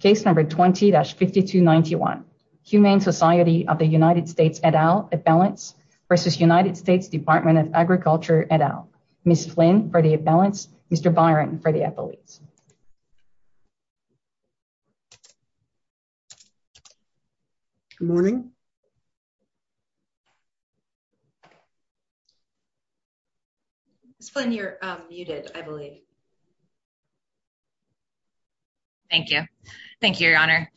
v. United States Department of Agriculture et al. Ms. Flynn for the appellants, Mr. Byron for the appellates. Good morning. Ms. Flynn, you're I'm going to go ahead and start the presentation. Thank you, Your Honor.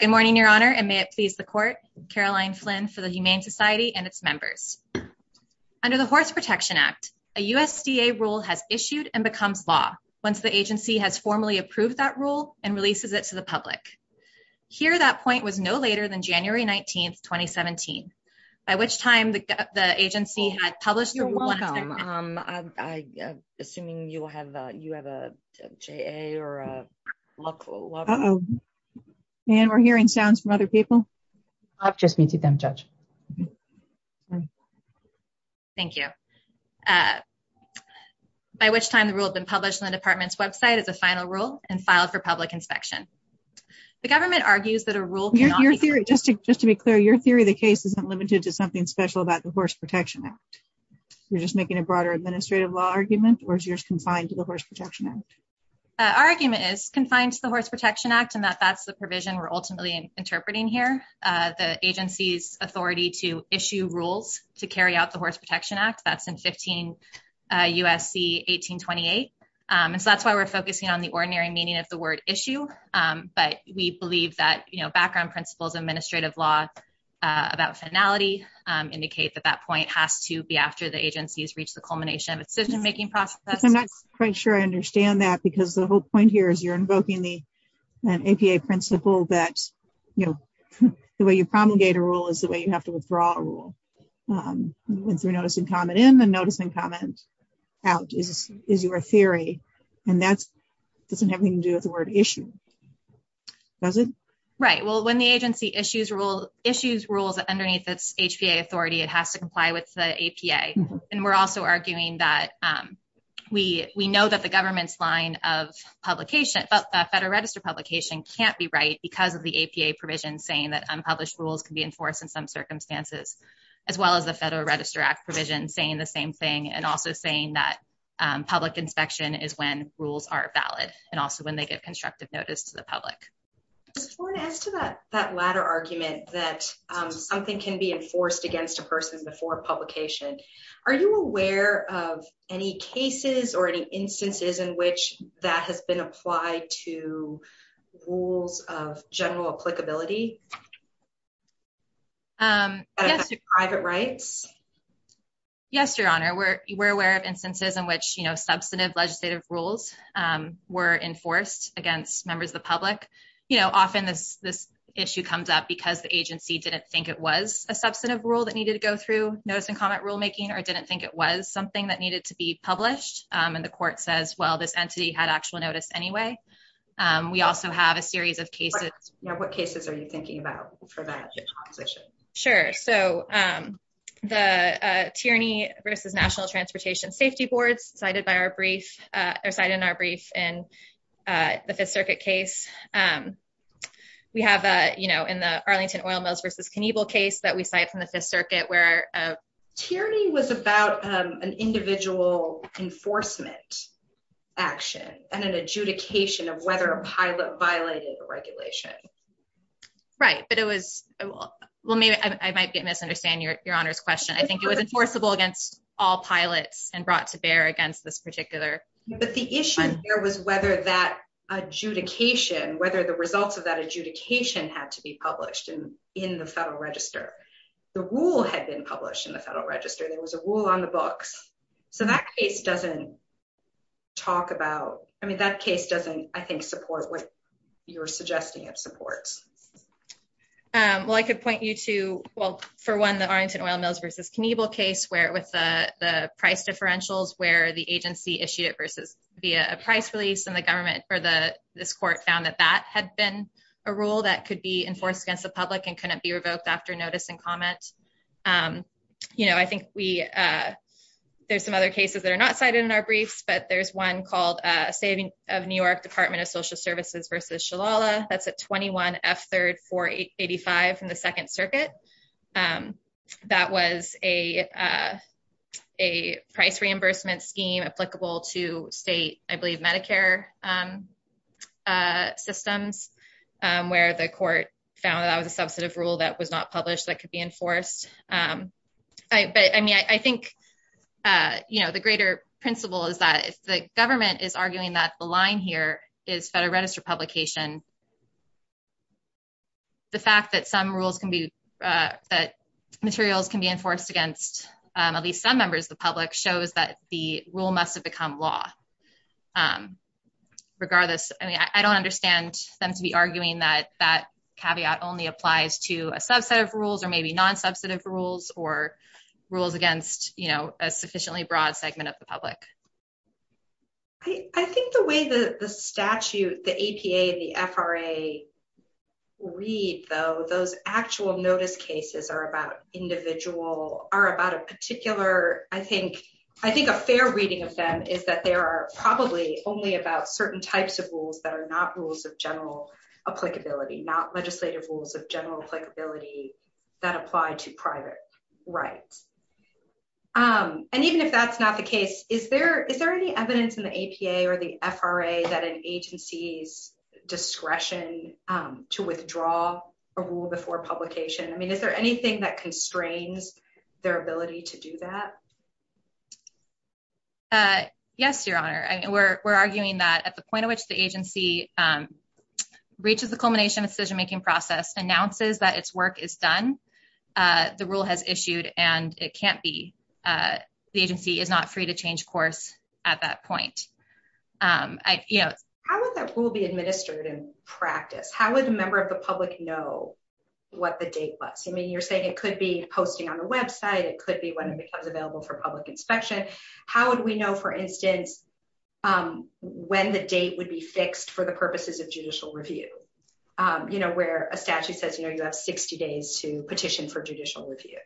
Good morning, Your Honor, and may it please the court. Caroline Flynn for the Humane Society and its members. Under the Horse Protection Act, a USDA rule has issued and becomes law once the agency has formally approved that rule and releases it to the public. Here, that point was no later than January 19, 2017, by which time the agency had published the rule. Thank you. You're welcome. We're hearing sounds from other people. I'll just speak to them, Judge. Thank you. By which time the rule had been published on the department's website as a final rule and filed for public inspection. The government argues that a rule... Just to be clear, your theory of the case isn't limited to something special about the Horse Protection Act. You're just making a broader administrative law argument, or is yours confined to the Horse Protection Act? Our argument is confined to the Horse Protection Act and that that's the provision we're ultimately interpreting here. The agency's authority to issue rules to carry out the Horse Protection Act, that's in 15 U.S.C. 1828. That's why we're focusing on the ordinary meaning of the word issue, but we believe that background principles of administrative law about finality indicates that that point has to be after the agency has reached the culmination of its decision-making process. I'm not quite sure I understand that because the whole point here is you're invoking the APA principle that the way you promulgate a rule is the way you have to withdraw a rule. Through notice and comment in and notice and comment out is your theory, and that doesn't have anything to do with the word issue. Does it? Right. Well, when the agency issues rules underneath its HPA authority, it has to comply with the APA. We're also arguing that we know that the government's line of Federal Register publication can't be right because of the APA provision saying that unpublished rules can be enforced in some circumstances, as well as the Federal Register Act provision saying the same thing and also saying that public inspection is when rules are valid and also when they give constructive notice to the public. That latter argument that something can be enforced against a person before publication, are you aware of any cases or any instances in which that has been applied to rules of general applicability? Private rights? Yes, Your Honor. We're aware of instances in which substantive legislative rules were enforced against members of the public. Often this issue comes up because the agency didn't think it was a substantive rule that needed to go through notice and comment rulemaking or didn't think it was something that needed to be published, and the court says, well, this entity had actual notice anyway. We also have a series of cases. What cases are you thinking about for that situation? Sure. The Tierney v. National Transportation Safety Board, cited in our brief in the Fifth Circuit case. We have in the Arlington Oil Mills v. Knievel case that we cite from the Fifth Circuit where Tierney was about an individual enforcement action and an adjudication of whether a pilot violated the regulation. Right, but it was... well, I might misunderstand Your Honor's question. I think it was enforceable against all pilots and brought to bear against this particular... But the issue here was whether that adjudication, whether the result of that adjudication had to be published in the Federal Register. The rule had been published in the Federal Register. There was a rule on the books. So that case is not a case that I would support with your suggesting of support. Well, I could point you to, well, for one, the Arlington Oil Mills v. Knievel case where it was the price differentials where the agency issued it via a price release, and the government for this court found that that had been a rule that could be enforced against the public and couldn't be revoked after notice and comment. You know, I think we... There's some other cases that are not cited in our brief, but there's one called State of New York Department of Social Services v. Shalala. That's a 21F385 from the Second Circuit. That was a price reimbursement scheme applicable to state, I believe, Medicare systems where the court found that that was a substantive rule that was not published that could be enforced. But, I mean, I think, you know, the greater principle is that if the government is arguing that the line here is better registered publication, the fact that some rules can be... that materials can be enforced against at least some members of the public shows that the rule must have become law. Regardless, I mean, I don't understand them to be arguing that that caveat only applies to a subset of rules or maybe non-substantive rules or rules against, you know, a sufficiently broad segment of the public. I think the way the statute, the APA and the FRA read, though, those actual notice cases are about individual... are about a particular... I think a fair reading of them is that they are probably only about certain types of rules that are not rules of general applicability, not legislative rules of general applicability that apply to private rights. And even if that's not the case, is there any evidence in the APA or the FRA that an agency's discretion to withdraw a rule before publication, I mean, is there anything that constrains their ability to do that? Yes, Your Honor. We're arguing that at the point at which the agency reaches the culmination of the decision-making process, announces that its work is done, the rule has issued, and it can't be... the agency is not free to change course at that point. How would that rule be administered in practice? How would a member of the public know what the date was? I mean, you're saying it could be posting on the website, it could be when it becomes available for public inspection. How would we know, for instance, when the date would be fixed for the purposes of judicial review? You know, where a petition for judicial review.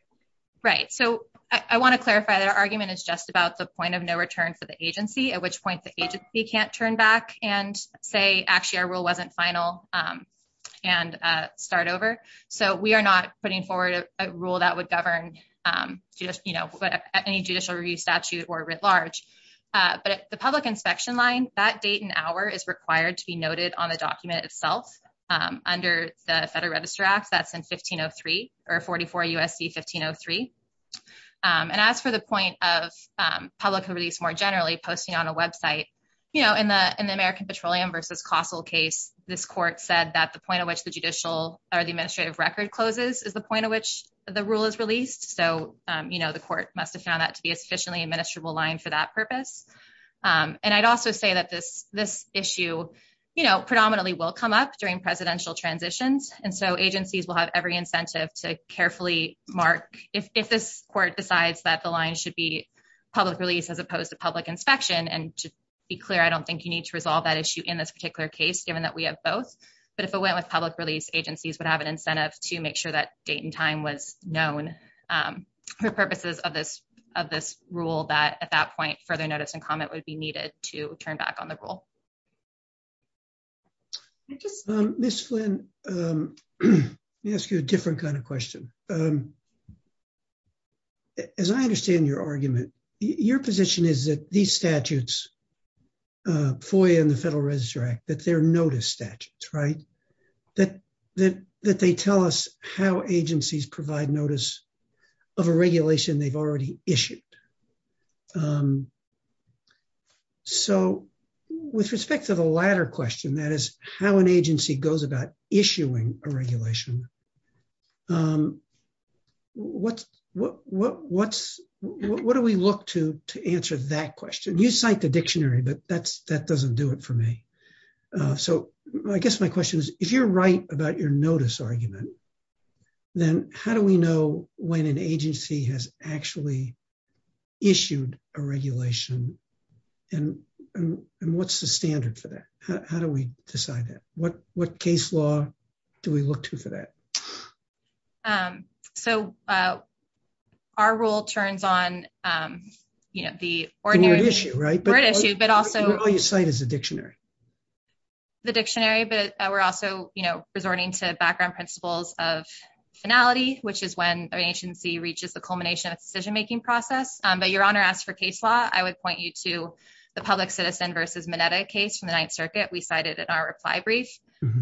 Right. So I want to clarify that our argument is just about the point of no return for the agency, at which point the agency can't turn back and say, actually, our rule wasn't final and start over. So we are not putting forward a rule that would govern any judicial review statute or writ large. But if the public inspection line, that date and hour is required to be noted on the document itself under the Register Act, that's in 1503, or 44 U.S.C. 1503. And as for the point of public release more generally posting on a website, you know, in the American Petroleum vs. Costco case, this court said that the point at which the judicial or the administrative record closes is the point at which the rule is released. So, you know, the court must have found that to be a sufficiently administrable line for that purpose. And I'd also say that this issue, you know, predominantly will come up during presidential transitions. And so agencies will have every incentive to carefully mark if this court decides that the line should be public release as opposed to public inspection. And to be clear, I don't think you need to resolve that issue in this particular case, given that we have both. But if it went with public release, agencies would have an incentive to make sure that date and time was known for purposes of this rule that at that point further notice and comment would be needed to turn back on the rule. Thank you. Ms. Flynn, let me ask you a different kind of question. As I understand your argument, your position is that these statutes, FOIA and the Federal Register Act, that they're notice statutes, right? That they tell us how agencies provide notice of a regulation they've already issued. So with respect to the latter question, that is, how an agency goes about issuing a regulation, what's what do we look to answer that question? You cite the dictionary, but that doesn't do it for me. So I guess my question is, if you're right about your notice argument, then how do we know when an agency has actually issued a regulation and what's the standard for that? How do we decide that? What case law do we look to for that? So our rule turns on the ordinary issue, but also... What do you cite as the dictionary? The dictionary, but we're also resorting to background principles of finality, which is when an agency reaches the culmination of the decision-making process. But Your Honor, as for case law, I would point you to the Public Citizen v. Mineta case from the Ninth Circuit. We cited it in our reply brief.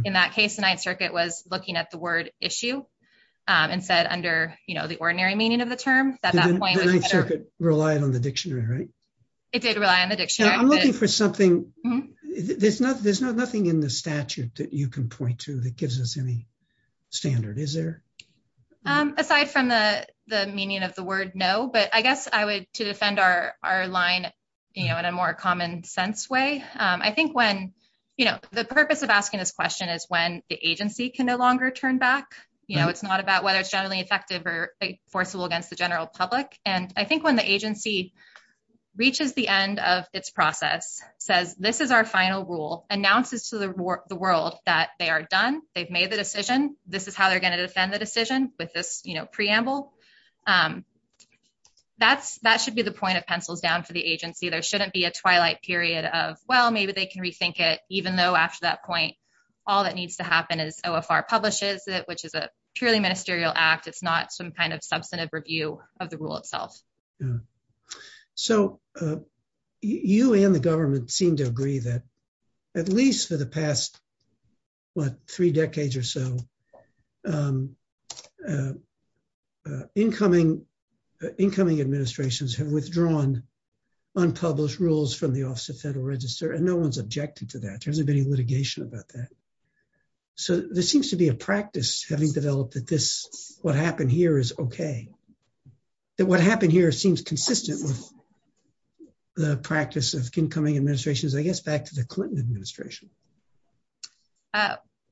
In that case, the Ninth Circuit was looking at the word issue and said, under the ordinary meaning of the term... The Ninth Circuit relied on the dictionary, right? It did rely on the dictionary. I'm looking for something... There's nothing in the statute aside from the meaning of the word no, but I guess I would... To defend our line in a more common sense way, I think when... The purpose of asking this question is when the agency can no longer turn back. It's not about whether it's generally effective or enforceable against the general public. And I think when the agency reaches the end of this process, says, this is our final rule, announces to the world that they are done, they've made the decision, this is how they're going to defend the decision with this preamble, that should be the point of pencil down to the agency. There shouldn't be a twilight period of, well, maybe they can rethink it, even though after that point, all that needs to happen is OFR publishes it, which is a purely ministerial act. It's not some kind of substantive review of the rule itself. So, you and the government seem to agree that at least for the past what, three decades or so, incoming administrations have withdrawn unpublished rules from the Office of Federal Register, and no one's objected to that. There hasn't been any litigation about that. So, there seems to be a practice having developed that this, what happened here is okay. That what happened here seems consistent with the Clinton administration.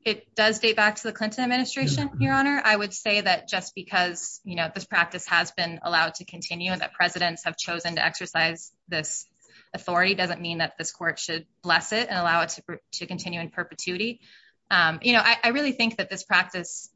It does date back to the Clinton administration, Your Honor. I would say that just because this practice has been allowed to continue and that presidents have chosen to exercise this authority doesn't mean that this court should bless it and allow it to continue in perpetuity. I really think that this practice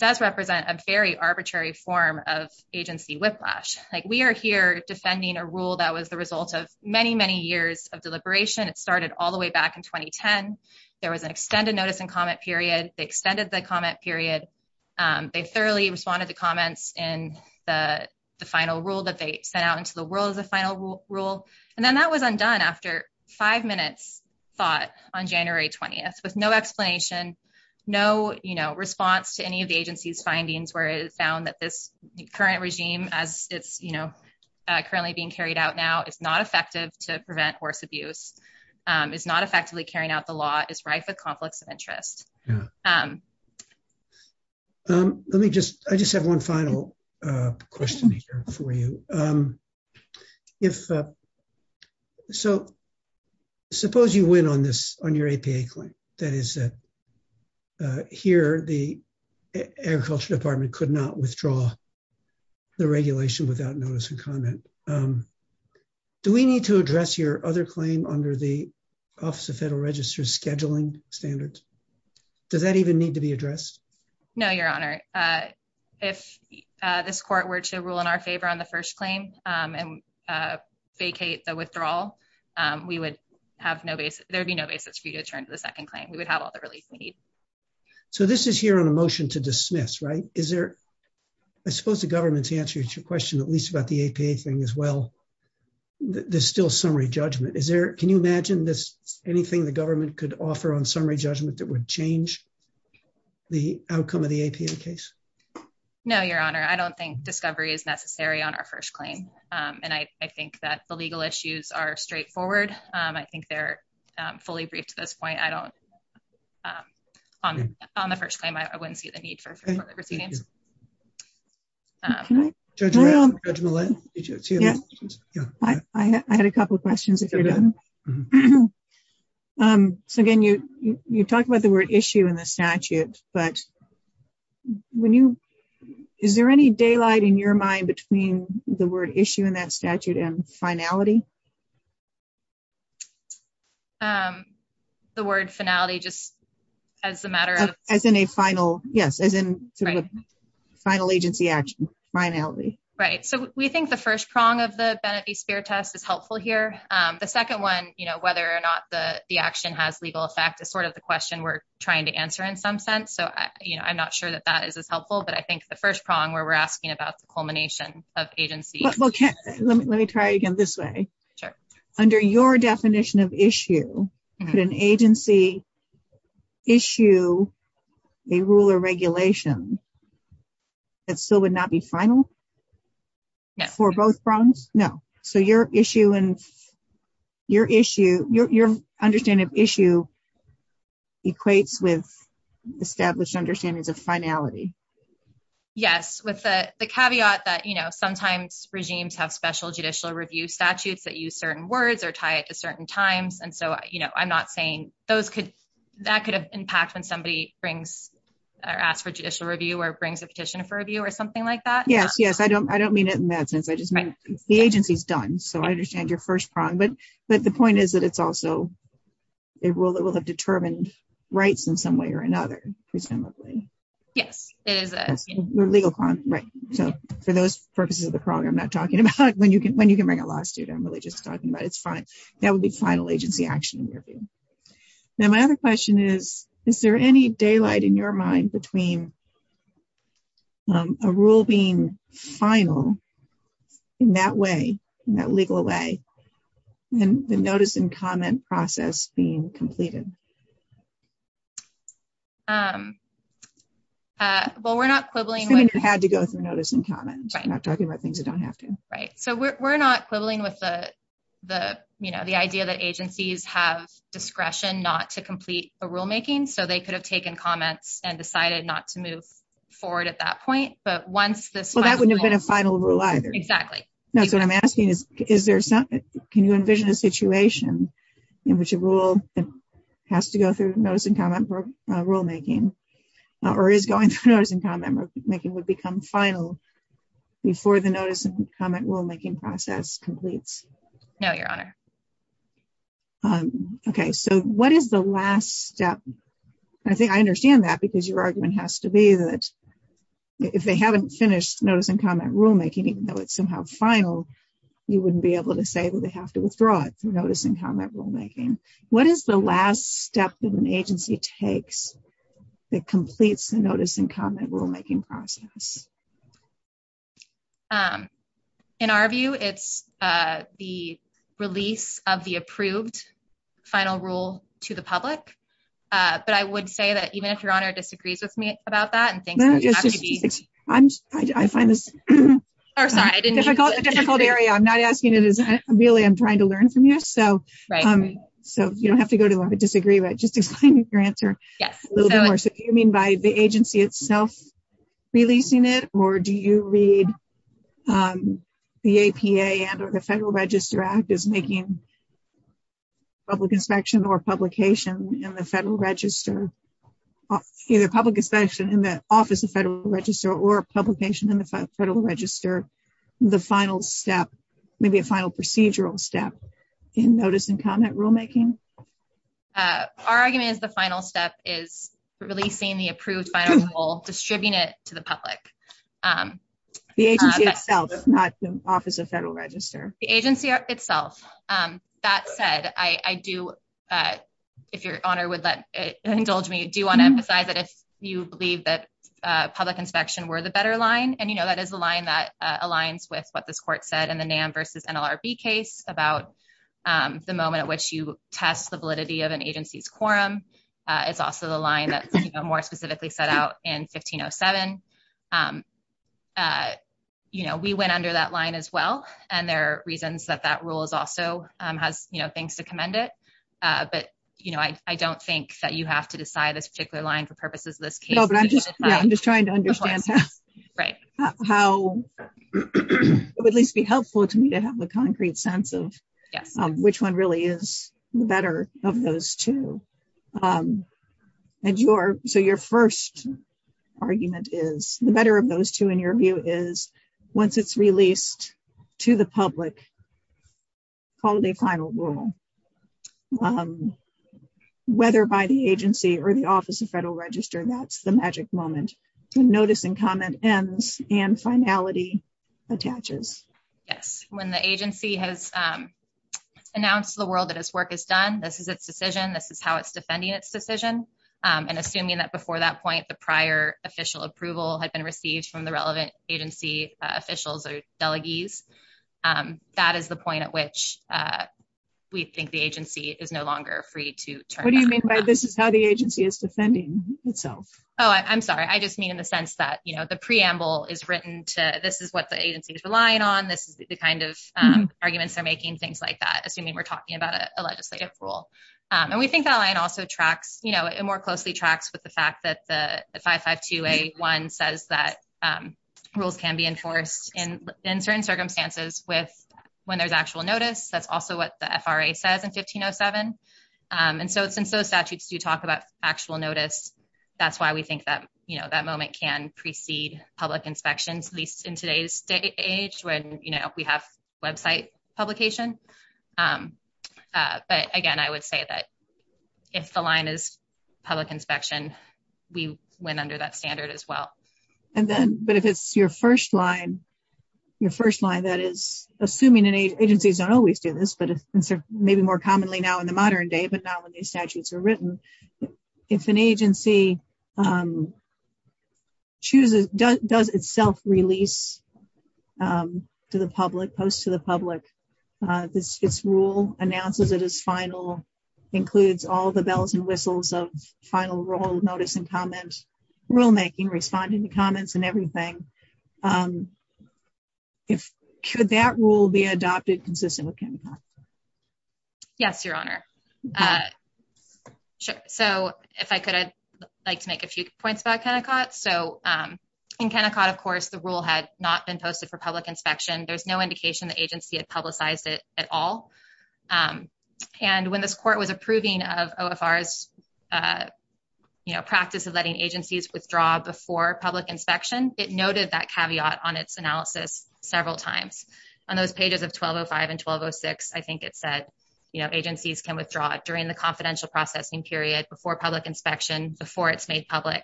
does represent a very arbitrary form of agency whiplash. We are here defending a rule that was the result of many, many years of deliberation. It started all the way back in 2010. There was an extended notice and comment period. They extended the comment period. They thoroughly responded to comments in the final rule that they sent out into the world as a final rule. And then that was undone after five minutes thought on January 20th with no explanation, no response to any of the agency's findings where it is found that this current regime as it's intended to prevent horse abuse is not effectively carrying out the law. It's rife with conflicts of interest. Let me just, I just have one final question here for you. If, so suppose you win on this, on your APA claim. That is here the agriculture department could not withdraw the regulation without notice and comment. Do we need to address your other claim under the office of federal register scheduling standards? Does that even need to be addressed? No, your honor. If this court were to rule in our favor on the first claim and vacate the withdrawal, we would have no basis, there'd be no basis for you to return to the second claim. We would have all the relief we need. So this is here on a motion to dismiss, right? Is there, I suppose the government's answer to your question, at least about the APA thing as well, there's still summary judgment. Is there, can you imagine this, anything the government could offer on summary judgment that would change the outcome of the APA case? No, your honor. I don't think discovery is necessary on our first claim. And I think that the legal issues are straightforward. I think they're fully briefed at this point. I don't on the first claim, I wouldn't see the need for further proceedings. Thank you. I had a couple of questions. So again, you talk about the word issue in the statute, but when you, is there any daylight in your mind between the word issue in that statute and finality? The word finality just as a matter of... Yes, as in final agency action, finality. Right. So we think the first prong of the Benedict Spear test is helpful here. The second one, whether or not the action has legal effect is sort of the question we're trying to answer in some sense. So I'm not sure that that is as helpful, but I think the first prong where we're asking about the culmination of agency... Let me try it again this way. Sure. Under your definition of issue, could an agency issue a rule or regulation that still would not be final for both prongs? No. So your issue and your issue, your understanding of issue equates with established understanding of finality. Yes, with the caveat that sometimes regimes have special judicial review statutes that use certain words or tie it to certain times, and so I'm not saying that could have impacts when somebody brings or asks for judicial review or brings a petition for review or something like that. Yes, yes. I don't mean it in that sense. I just mean the agency's done, so I understand your first prong. But the point is that it's also a rule that will have determined rights in some way or another, presumably. Yes, it is a legal prong. Right. So for those purposes of the prong, I'm not talking about when you can bring a lawsuit. I'm really just talking about its final agency action in your view. Now, my other question is, is there any daylight in your mind between a rule being final in that way, in that legal way, and the notice and comment process being completed? Well, we're not quibbling. You had to go through notice and comment. I'm not talking about things you don't have to. Right. So we're not quibbling with the idea that agencies have discretion not to complete a rulemaking, so they could have taken comments and decided not to move forward at that point. Well, that wouldn't have been a final rule either. Exactly. So what I'm asking is, can you envision a situation in which a rule has to go through notice and comment rulemaking or is going through notice and comment rulemaking would become final before the notice and comment process completes? No, Your Honor. Okay. So what is the last step? I think I understand that because your argument has to be that if they haven't finished notice and comment rulemaking, even though it's somehow final, you wouldn't be able to say that they have to withdraw it from notice and comment rulemaking. What is the last step that an agency takes that completes the notice and comment rulemaking process? In our view, it's the release of the approved final rule to the public. But I would say that even if Your Honor disagrees with me about that and thinks it has to be... I find this a difficult area. I'm not asking it as really I'm trying to learn from you. So you don't have to go to where I disagree, but just explain your answer a little bit more. So you mean by the agency itself releasing it, or do you read the APA and the Federal Register Act as making public inspection or publication in the Federal Register, either public inspection in the Office of Federal Register or publication in the Federal Register, the final step, maybe a final procedural step in notice and comment rulemaking? Our argument is the final step is releasing the approved final rule, distributing it to the public. The agency itself, not the Office of Federal Register. The agency itself. That said, I do... If Your Honor would indulge me, I do want to emphasize that if you believe that public inspection were the better line, and you know that is the line that aligns with what this Court said in the NAM v. NLRB case about the moment at which you test the validity of an agency's program, it's also the line that's more specifically set out in 1507. We went under that line as well, and there are reasons that that rule also has things to commend it. But I don't think that you have to decide a particular line for purposes of this case. I'm just trying to understand how it would at least be helpful to me to have the concrete sense of which one really is the better of those two. So your first argument is the better of those two, in your view, is once it's released to the public, call it a final rule. Whether by the agency or the Office of Federal Register, that's the magic moment. Notice and comment ends and finality attaches. Yes. When the agency has released it to the public, that's the point at which we think the agency is no longer free to turn back. What do you mean by this is how the agency is defending itself? Oh, I'm sorry. I just mean in the sense that the preamble is written to this is what the agency is relying on, this is the kind of arguments they're making, things like that. Assuming we're talking about a legal or legislative rule. We think that line also more closely tracks with the fact that the 55281 says that rules can be enforced in certain circumstances when there's actual notice. That's also what the FRA says in 1507. Since those statutes do talk about actual notice, that's why we think that moment can precede public inspection, at least in today's day and age where we have website publication. But again, I would say that if the line is public inspection, we went under that standard as well. But if it's your first line, your first line that is, assuming agencies don't always do this, but maybe more commonly now in the modern day, but now when these statutes are written, if an agency chooses, does itself release to the public, posts to the public, this rule announces it is final, includes all the bells and whistles of final rule, notice and comments, rulemaking, responding to comments and everything. Should that rule be adopted consistent with Kennecott? Yes, Your Honor. If I could, I'd like to make a few points about Kennecott. In Kennecott, of course, the rule had not been posted for public inspection. There's no indication the agency had publicized it at all. When this court was approving of OFR's practice of letting agencies withdraw before public inspection, it noted that caveat on its analysis several times. On those pages of 1205 and 1206, I think it said agencies can withdraw during the confidential processing period before public inspection, before it's made public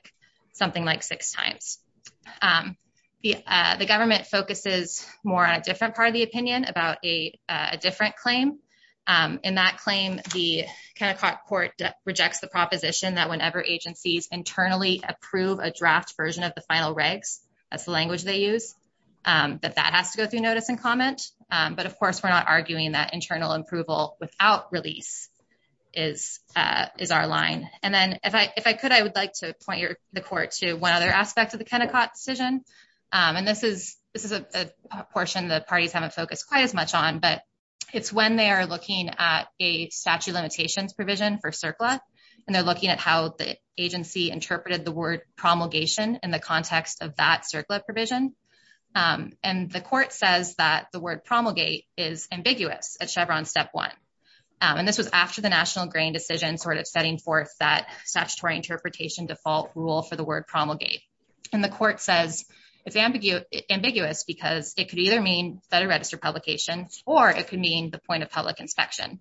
something like six times. The government focuses more on a different part of the opinion about a different claim. In that claim, the Kennecott court rejects the proposition that whenever agencies internally approve a draft version of the final regs, that's the language they use, but that has to go through notice and comment. But, of course, we're not arguing that internal approval without release is our line. If I could, I would like to point the court to one other aspect of the Kennecott decision. This is a portion the parties haven't focused quite as much on, but it's when they are looking at a statute of limitations provision for surplus, and they're looking at how the agency interpreted the word promulgation in the context of that surplus provision. The court says that the word promulgate is ambiguous at Chevron Step 1. This was after the National Grain decision setting forth that statutory interpretation default rule for the word promulgate. The court says it's ambiguous because it could either mean Federal Register publication or it could mean the point of public inspection.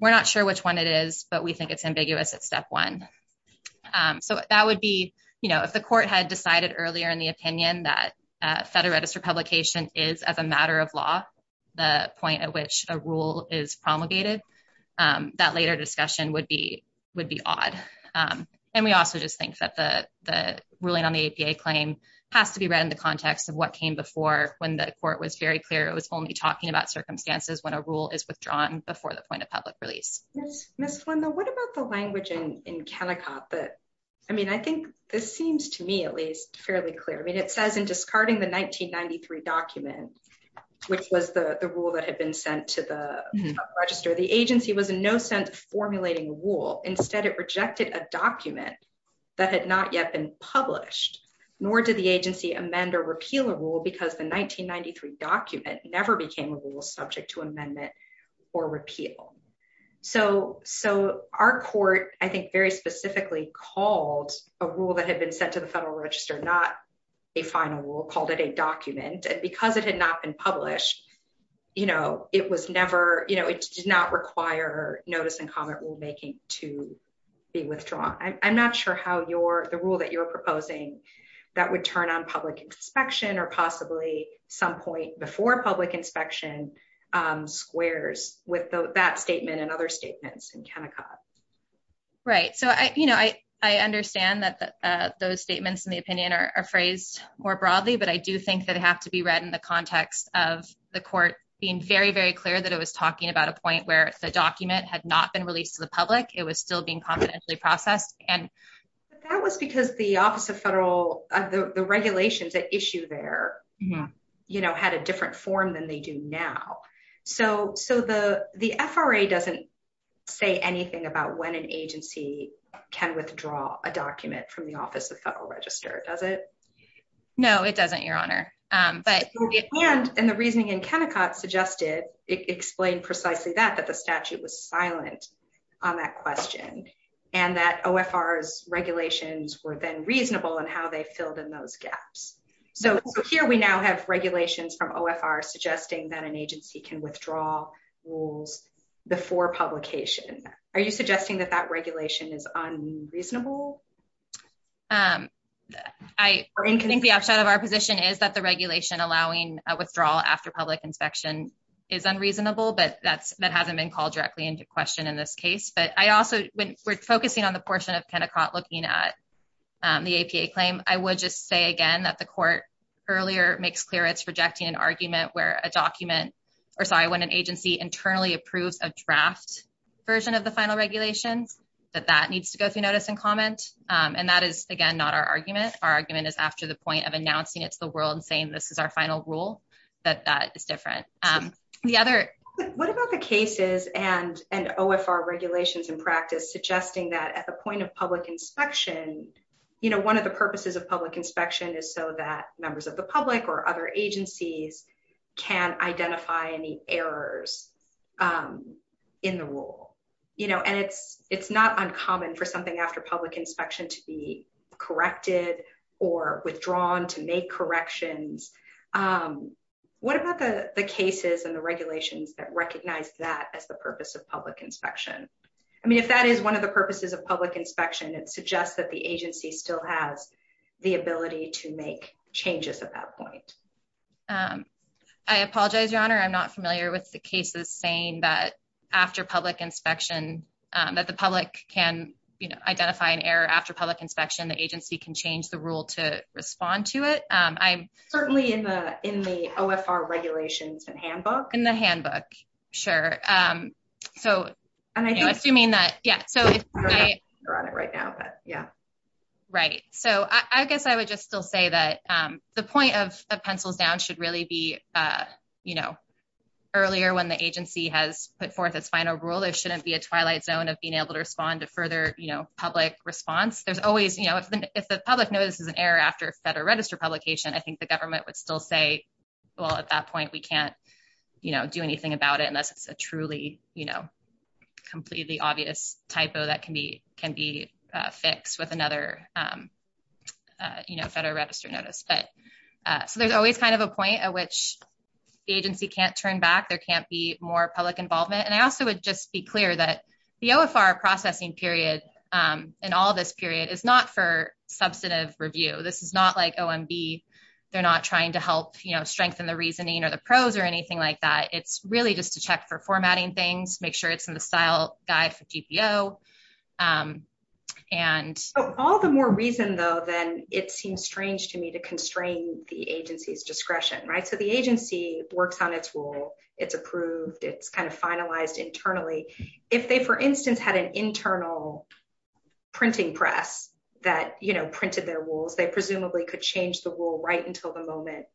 We're not sure which one it is, but we think it's ambiguous at Step 1. If the court had decided earlier in the opinion that Federal Register publication is of a matter of law, the point at which a rule is promulgated, that later discussion would be odd. We also just think that the ruling on the APA claim has to be read in the context of what came before when the court was very clear. It was only talking about circumstances when a rule is withdrawn before the point of public release. Ms. Swinlow, what about the language in Kennecott? I think this seems to me at least fairly clear. It says in discarding the 1993 document, which was the rule that had been sent to the Federal Register, the agency was in no sense formulating a rule. Instead, it rejected a document that had not yet been published, nor did the agency amend or repeal a rule because the 1993 document never became a rule subject to amendment or repeal. Our court, I think, very specifically called a rule that had been sent to the Federal Register, not a final rule, called it a document. Because it had not been published, it did not require notice and comment rulemaking to be withdrawn. I'm not sure how the rule that you're proposing that would turn on public inspection or possibly some point before public inspection squares with that statement and other statements in Kennecott. Right. I understand that those statements in the opinion are phrased more broadly, but I do think that it has to be read in the context of the court being very, very clear that it was talking about a point where the document had not been released to the public. It was still being confidentially processed. That was because the Office of Federal, the regulations that issue there had a different form than they do now. The FRA doesn't say anything about when an agency can withdraw a document from the Office of Federal Register, does it? No, it doesn't, Your Honor. And the reasoning in Kennecott suggested, explained precisely that, that the statute was silent on that question and that OFR's regulations were then reasonable in how they filled in those gaps. Here we now have regulations from OFR suggesting that an agency can withdraw rules before publication. Are you suggesting that that regulation is unreasonable? I think the upshot of our position is that the regulation allowing a withdrawal after public inspection is unreasonable, but that hasn't been called directly into question in this case. But I also, when we're focusing on the portion of Kennecott looking at the APA claim, I would just say again that the court earlier makes clear it's projecting an argument where a document, or sorry, when an agency internally approved a draft version of the final regulations, that that needs to go through notice and comment. And that is again not our argument. Our argument is after the point of announcing it to the world and saying this is our final rule, that that is different. What about the cases and OFR regulations in practice suggesting that at the point of public inspection, you know, one of the purposes of public inspection is so that members of the public or other agencies can identify any errors in the rule. You know, and it's not uncommon for something after public inspection to be corrected or withdrawn to make corrections. What about the cases and the regulations that recognize that as the purpose of public inspection? I mean, if that is one of the purposes of public inspection, it suggests that the agency still has the ability to make changes at that point. I apologize, Donna, I'm not familiar with the cases saying that after public inspection that the public can identify an error after public inspection, the agency can change the rule to respond to it. Certainly in the OFR regulations and handbook. In the handbook, sure. You're on it right now. So I guess I would just still say that the point of Pencils Down should really be, you know, earlier when the agency has put forth its final rule, it shouldn't be a twilight zone of being able to respond to further public response. There's always, you know, if the public notices an error after a Federal Register publication, I think the government would still say, well, at that point, we can't do anything about it unless it's a truly, you know, completely obvious typo that can be fixed with another Federal Register notice. So there's always kind of a point at which the agency can't turn back. There can't be more public involvement. And I also would just be clear that the OFR processing period and all this period is not for substantive review. This is not like OMB. They're not trying to help, you know, strengthen the reasoning or the pros or anything like that. It's really just to check for formatting things, make sure it's in the style guide for GPO. All the more reason, though, then it seems strange to me to constrain the agency's discretion, right? So the agency works on its rule. It's approved. It's kind of finalized internally. If they, for instance, had an internal printing press that, you know, printed their rules, they presumably could change the rule right until the moment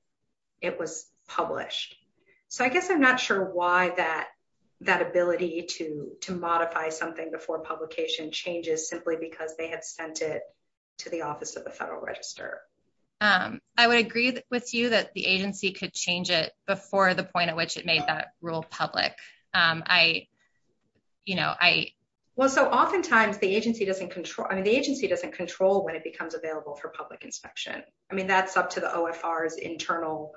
it was published. So I guess I'm not sure why that ability to modify something before publication changes simply because they have sent it to the Office of the Federal Register. I would agree with you that the agency could change it before the point at which it made that rule public. Well, so oftentimes the agency doesn't control when it becomes available for public inspection. I mean, that's up to the OFR's internal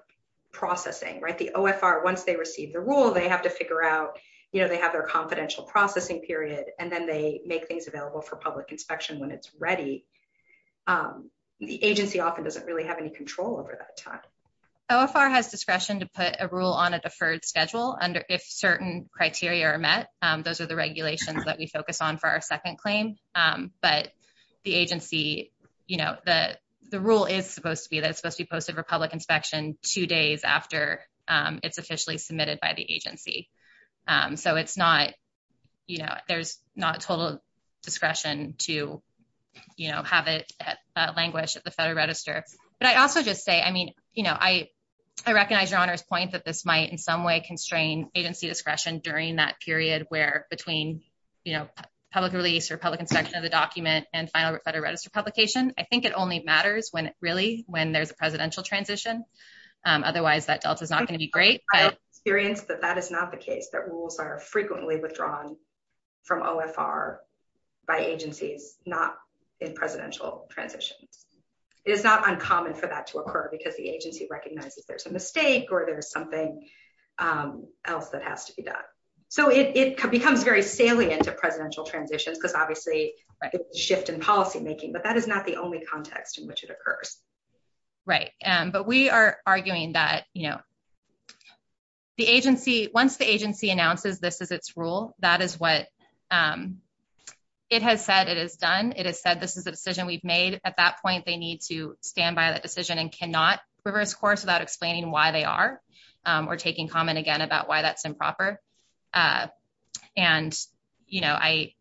processing, right? The OFR, once they receive the rule, they have to figure out, you know, they have their confidential processing period, and then they make things available for public inspection when it's ready. The agency often doesn't really have any control over that time. OFR has discretion to put a rule on a deferred schedule if certain criteria are met. Those are the regulations that we focus on for our second claim. But the agency, you know, the rule is supposed to be that it's supposed to be posted for public inspection two days after it's officially submitted by the agency. So it's not, you know, there's not a total discretion to have it languish at the Federal Register. But I also just say, I mean, you know, I recognize Your Honor's point that this might in some way constrain agency discretion during that period where between public release or public inspection of the document and final Federal Register publication. I think it only matters when it really, when there's a presidential transition. Otherwise, that delta's not going to be great. I'm experienced that that is not the case. That rules are frequently withdrawn from OFR by agencies not in presidential transition. It is not uncommon for that to occur because the agency recognizes there's a mistake or there's something else that has to be done. So it becomes very salient at presidential transition because obviously it's a shift in policymaking. But that is not the only context in which it occurs. Right. But we are arguing that, you know, the agency, once the agency announces this is its rule, that is what it has said it has done. It has said this is a decision we've made. At that point, they need to stand by that decision and cannot reverse course without explaining why they are or taking comment again about why that's improper. And, you know, I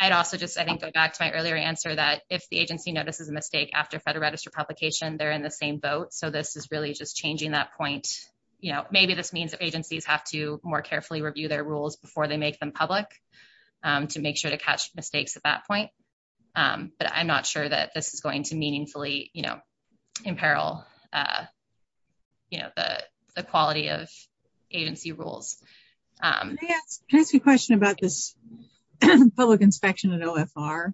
I'd also just, I think, go back to my earlier answer that if the agency notices a mistake after Federal Register publication, they're in the same boat. So this is really just changing that point. You know, maybe this means that agencies have to more carefully review their rules before they make them public to make sure to catch mistakes at that point. But I'm not sure that this is going to meaningfully, you know, imperil the quality of agency rules. Can I ask a question about this public inspection at OFR?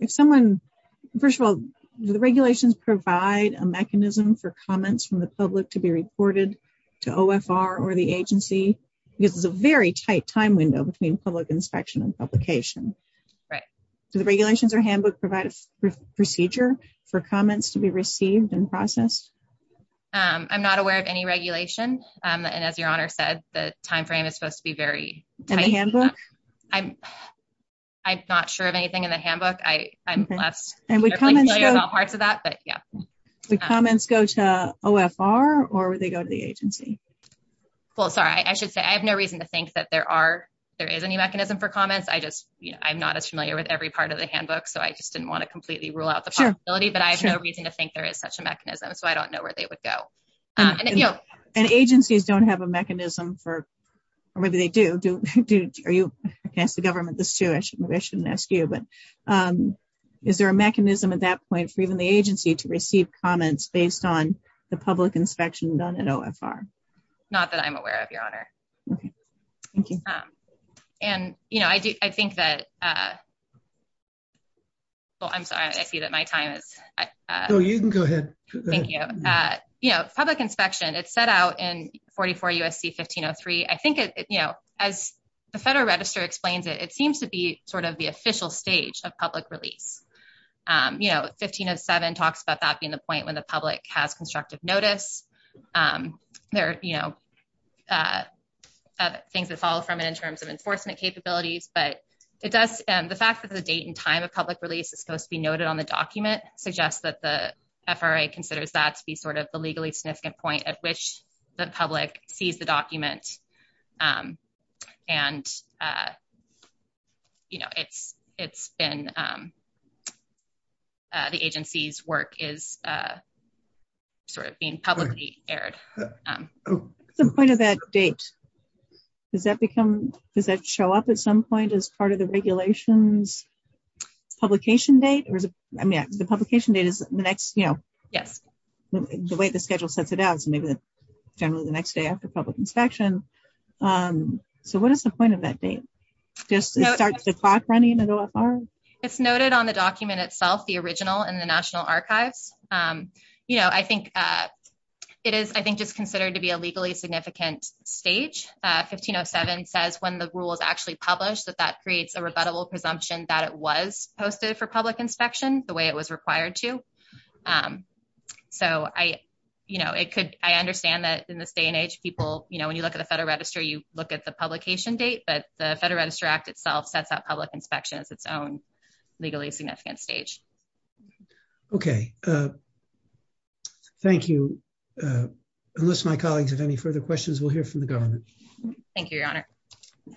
If someone, first of all, do the regulations provide a mechanism for comments from the public to be reported to OFR or the agency? Because there's a very tight time window between public inspection and publication. Right. Do the regulations or handbook provide a procedure for comments to be received and processed? I'm not aware of any regulations. And as Your Honor said, the time frame is supposed to be very tight. And the handbook? I'm not sure of anything in the handbook. And the comments go to OFR or they go to the agency? I have no reason to think that there is any mechanism for comments. I'm not as familiar with every part of the handbook. So I just didn't want to completely rule out the possibility. But I have no reason to think there is such a mechanism. So I don't know where they would go. And agencies don't have a mechanism for or whether they do. I can ask the government this too. I shouldn't ask you. But is there a mechanism at that point for even the agency to receive comments based on the public inspection done at OFR? Not that I'm aware of, Your Honor. And I think that well, I'm sorry. I see that my time is Oh, you can go ahead. Thank you. Public inspection, it's set out in 44 U.S.C. 1503. I think, you know, as the Federal Register explains it, it seems to be sort of the official stage of public release. You know, 1507 talks about that being the point when the public has constructive notice. There are, you know, things that fall from it in terms of enforcement capabilities. But the fact that the date and time of public release is supposed to be noted on the document suggests that the FRA considers that to be sort of the legally significant point at which the public sees the document and you know, it's been the agency's work is sort of being publicly aired. The point of that date, does that show up at some point as part of the regulations publication date? I mean, the publication date is you know, the way the schedule sets it out is generally the next day after public inspection. So what is the point of that date? It's noted on the document itself, the original in the National Archives. You know, I think it's considered to be a legally significant stage. 1507 says when the rule is actually published that that creates a rebuttable presumption that it was posted for public inspection the way it was required to. You know, I understand that in this day and age people, you know, when you look at the Federal Register, you look at the publication date, but the Federal Register Act itself sets out public inspection as its own legally significant stage. Okay. Thank you. Unless my colleagues have any further questions, we'll hear from the government. Thank you, Your Honor. Thank you.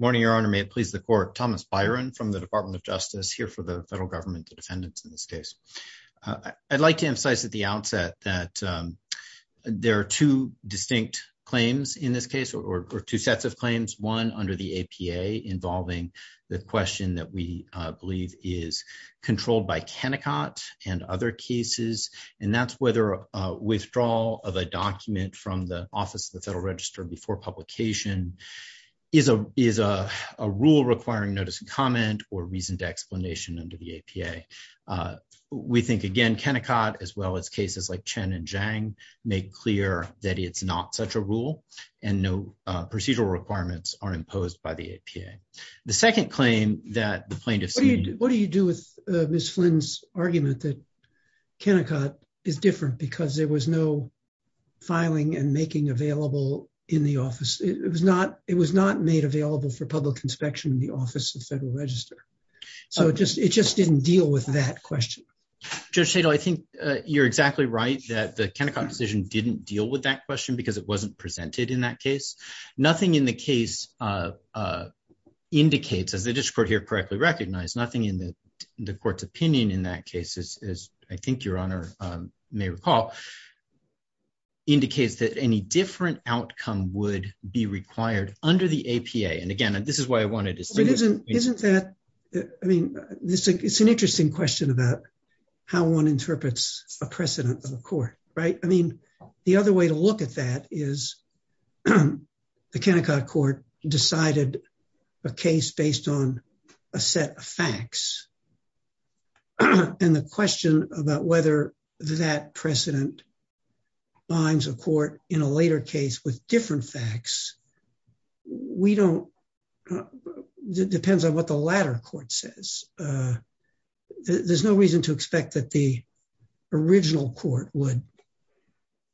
Morning, Your Honor. May it please the Court. Thomas Byron from the Department of Justice here for the Federal Government's defendants in this case. I'd like to emphasize at the outset that there are two distinct claims in this case, or two sets of claims. One under the APA controlled by Kennecott and the other is Kennecott and other cases, and that's whether withdrawal of a document from the Office of the Federal Register before publication is a rule requiring notice and comment or reasoned explanation under the APA. We think, again, Kennecott as well as cases like Chen and Zhang make clear that it's not such a rule and no procedural requirements are imposed by the APA. The second claim that the plaintiffs made was, what do you do with Ms. Flynn's argument that Kennecott is different because there was no filing and making available in the office? It was not made available for public inspection in the Office of the Federal Register. It just didn't deal with that question. Judge Shadle, I think you're exactly right that the Kennecott decision didn't deal with that question because it wasn't presented in that case. Nothing in the case indicates, as the district court here correctly recognized, nothing in the court's opinion in that case, as I think your Honor may recall, indicates that any different outcome would be required under the APA. Again, this is why I wanted to say this. It's an interesting question about how one interprets a precedent of a court. The other way to look at that is the Kennecott court decided a case based on a set of facts. The question about whether that precedent binds a court in a later case with different facts depends on what the latter court says. There's no reason to expect that the original court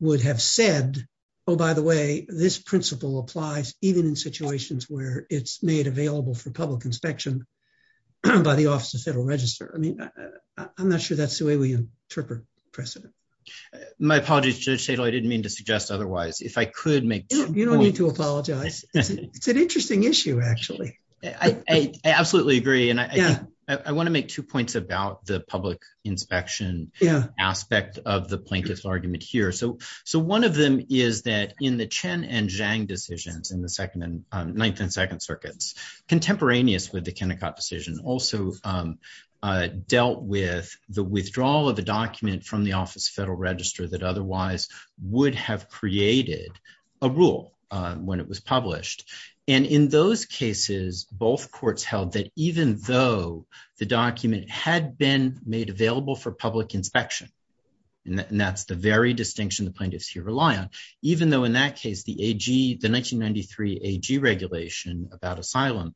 would have said, oh, by the way, this principle applies even in situations where it's made available for public inspection by the Office of the Federal Register. I'm not sure that's the way we interpret precedent. My apologies, Judge Shadle. I didn't mean to suggest otherwise. You don't need to apologize. It's an interesting issue, actually. I absolutely agree. I want to make two points about the public inspection aspect of the plaintiff's argument here. One of them is that in the Chen and Zhang decisions in the Ninth and Second Circuits, contemporaneous with the Kennecott decision also dealt with the withdrawal of the document from the Office of the Federal Register that otherwise would have created a rule when it was published. In those cases, both courts held that even though the document had been made available for public inspection and that's the very distinction the plaintiffs here rely on, even though in that case, the 1993 AG regulation about asylum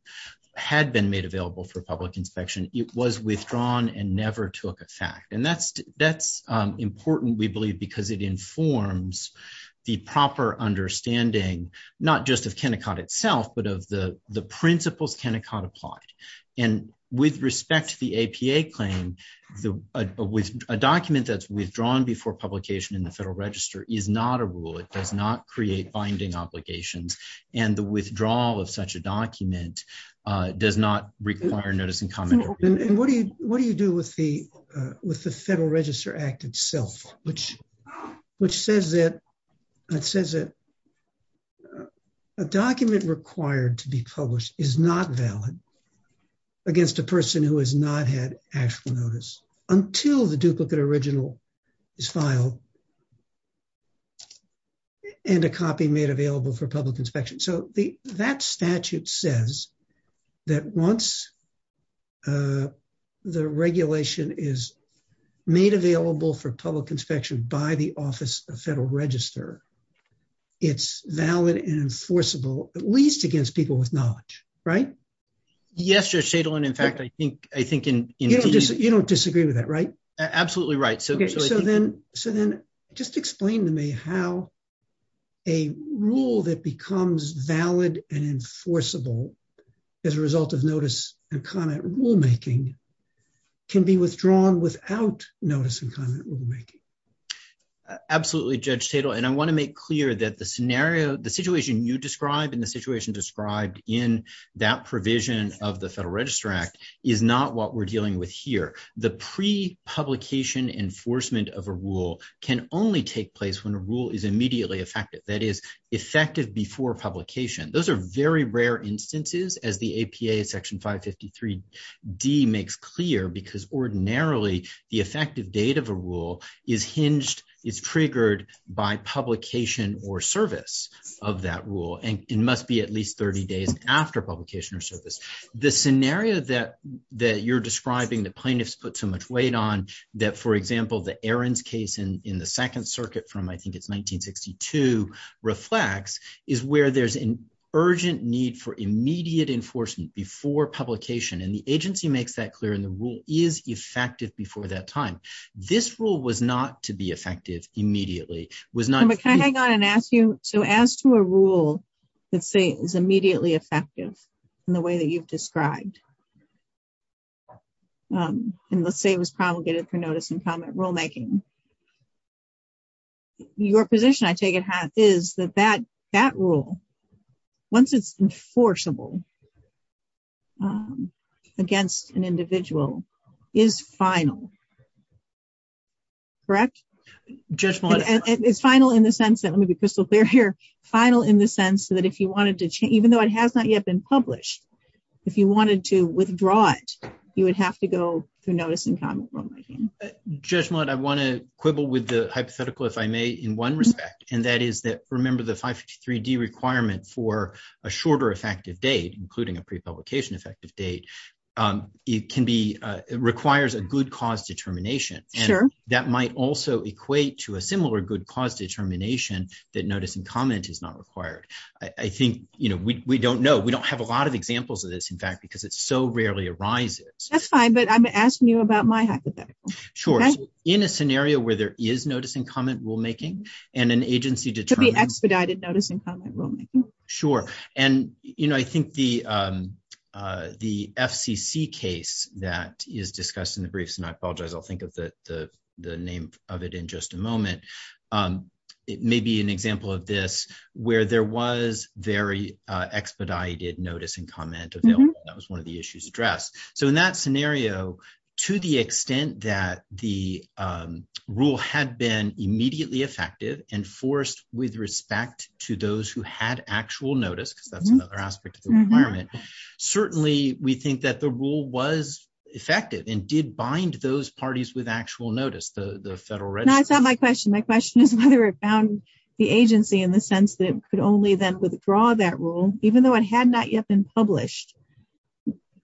had been made available for public inspection, it was withdrawn and never took effect. That's important, we believe, because it informs the proper understanding not just of Kennecott itself, but of the principles Kennecott applied. With respect to the APA claim, a document that's withdrawn before publication in the Federal Register is not a rule. It does not create binding obligations. The withdrawal of such a document does not require notice and commentary. What do you do with the Federal Register Act itself, which says that a document required to be published is not valid against a person who has not had actual notice until the duplicate original is filed and a copy made available for public inspection. That statute says that once the regulation is made available for public inspection by the Office of the Federal Register, it's valid and enforceable, at least against people with knowledge, right? Yes, Judge Tatel, and in fact I think You don't disagree with that, right? Absolutely right. Just explain to me how a rule that becomes valid and enforceable as a result of notice and comment rulemaking can be withdrawn without notice and comment rulemaking. Absolutely, Judge Tatel, and I want to make clear that the situation you describe and the situation you describe and the provision of the Federal Register Act is not what we're dealing with here. The pre-publication enforcement of a rule can only take place when a rule is immediately effective, that is effective before publication. Those are very rare instances as the APA Section 553D makes clear because ordinarily the effective date of a rule is hinged, is triggered by publication or service of that service. The scenario that you're describing, the plaintiffs put so much weight on, that for example the Ahrens case in the Second Circuit from I think it's 1962 reflects, is where there's an urgent need for immediate enforcement before publication and the agency makes that clear and the rule is effective before that time. This rule was not to be effective immediately. Can I hang on and ask you, so as to a rule that is immediately effective in the way that you've described and let's say it was promulgated for notice and comment rulemaking, your position I take it is that that rule, once it's enforceable against an individual is final, correct? It's final in the sense that, let me be crystal clear here, it's final in the sense that if you wanted to change, even though it has not yet been published, if you wanted to withdraw it, you would have to go through notice and comment rulemaking. Just one, I want to quibble with the hypothetical if I may in one respect and that is that remember the 553D requirement for a shorter effective date, including a pre-publication effective date, it can be, it requires a good cause determination and that might also equate to a similar good cause determination that notice and comment is not required. I think we don't know. We don't have a lot of examples of this, in fact, because it so rarely arises. That's fine, but I'm asking you about my hypothetical. Sure. In a scenario where there is notice and comment rulemaking and an agency determines. To be expedited notice and comment rulemaking. Sure. And I think the FCC case that is discussed in the briefs, and I apologize, I'll think of the name of it in just a moment, it may be an example of this where there was very expedited notice and comment available. That was one of the issues addressed. So in that scenario to the extent that the rule had been immediately effective and forced with respect to those who had actual notice, because that's another aspect of the requirement, certainly we think that the rule was effective and did bind those parties with actual notice, the federal register. That's not my question. My question is whether it bound the agency in the sense that it could only then withdraw that rule, even though it had not yet been published,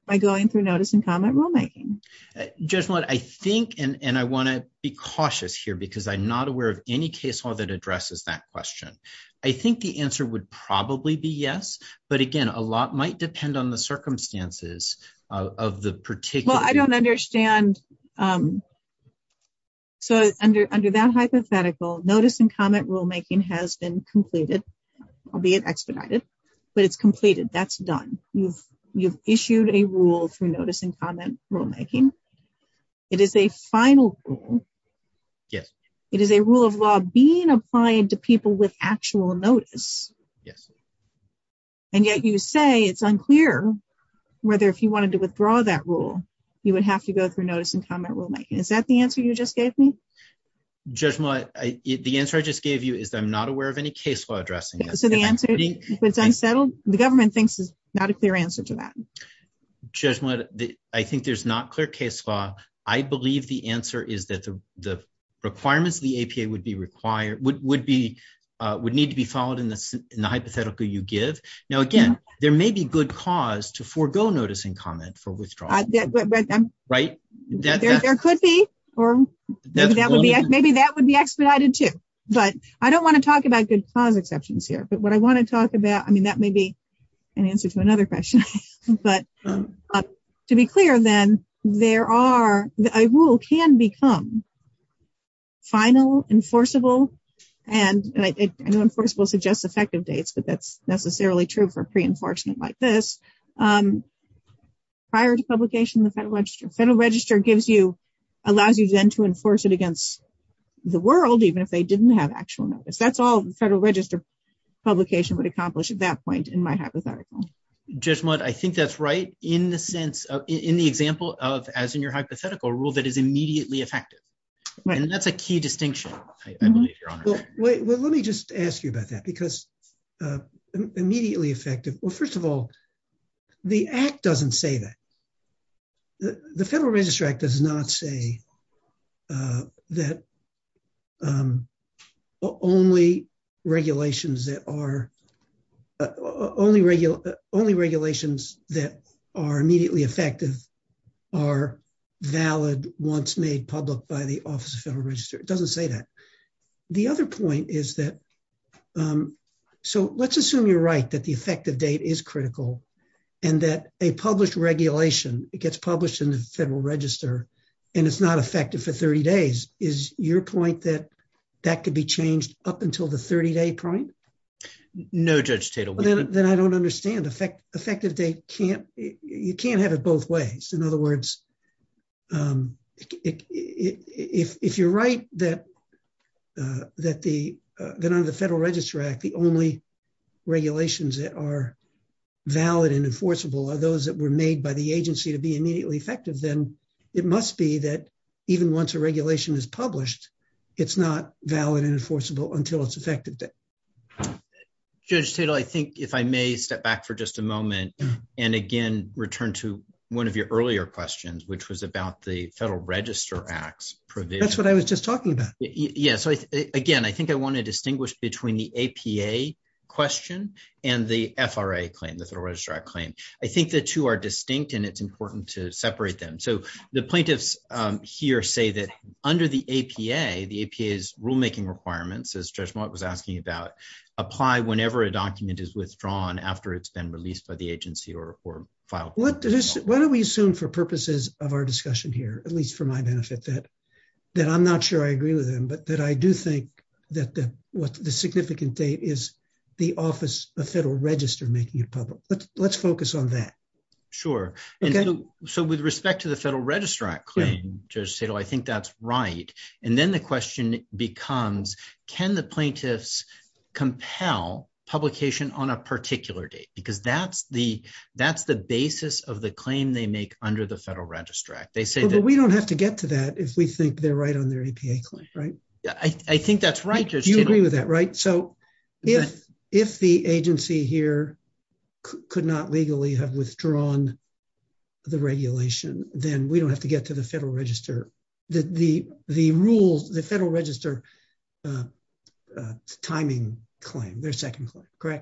by going through notice and comment rulemaking. Jessalyn, I think, and I want to be cautious here because I'm not aware of any case law that addresses that question. I think the answer would probably be yes, but again a lot might depend on the circumstances of the particular case. I don't understand. So under that hypothetical, notice and comment rulemaking has been completed, albeit expedited, but it's completed. That's done. You've issued a rule for notice and comment rulemaking. It is a final rule. It is a rule of law being applied to people with actual notice. And yet you say it's unclear whether if you wanted to withdraw that rule, you would have to go through notice and comment rulemaking. Is that the answer you just gave me? Judge Millett, the answer I just gave you is I'm not aware of any case law addressing that. So the answer is if it's unsettled, the government thinks there's not a clear answer to that. Judge Millett, I think there's not clear case law. I believe the answer is that the requirements of the APA would be required, would be, would need to be followed in the hypothetical you give. Now again, there may be good cause to forego notice and comment for withdrawal. There could be. Maybe that would be expedited, too. But I don't want to talk about good cause exceptions here. But what I want to talk about, I mean, that may be an answer to another question. But to be clear then, there are, a rule can become final, enforceable, and I know enforceable suggests effective dates, but that's not necessarily true for pre-enforcement like this. Prior to publication, the Federal Register gives you, allows you then to enforce it against the world, even if they didn't have actual notice. That's all the Federal Register publication would accomplish at that point in my hypothetical. Judge Millett, I think that's right in the sense of, in the example of, as in your hypothetical, a rule that is immediately effective. And that's a key distinction. Let me just ask you about that. Because immediately effective, well, first of all, the Act doesn't say that. The Federal Register Act does not say that only regulations that are only regulations that are immediately effective are valid once made public by the Office of the Federal Register. It doesn't say that. The other point is that, so let's assume you're right that the effective date is critical and that a published regulation, it gets published in the Federal Register and it's not effective for 30 days. Is your point that that could be changed up until the 30-day point? No, Judge Tittle. Then I don't understand. Effective date can't, you can't have it both ways. In other words, if you're right that under the Federal Register Act, the only regulations that are valid and enforceable are those that were made by the agency to be immediately effective, then it must be that even once a regulation is published, it's not valid and enforceable until it's effective date. Judge Tittle, I think if I may step back for just a moment and again return to one of your earlier questions, which was about the Federal Register Act's provision. That's what I was just talking about. Yes. Again, I think I want to distinguish between the APA question and the FRA claim, the Federal Register Act claim. I think the two are distinct and it's important to separate them. The plaintiffs here say that under the APA, the APA's rulemaking requirements, as Judge Mott was asking about, apply whenever a document is withdrawn after it's been released by the agency or filed. What do we assume for purposes of our discussion here, at least for my benefit, that I'm not sure I agree with him, but that I do think that the significant date is the Office of Federal Register making it public. Let's focus on that. Sure. With respect to the Federal Register Act claim, Judge Tittle, I think that's right. Then the question becomes, can the plaintiffs compel publication on a particular date because that's the basis of the claim they make under the Federal Register Act. We don't have to get to that if we think they're right on their APA claim, right? I think that's right, Judge Tittle. You agree with that, right? If the agency here could not legally have withdrawn the regulation, then we don't have to get to the Federal Register. The rules, the Federal Register timing claim, their second date.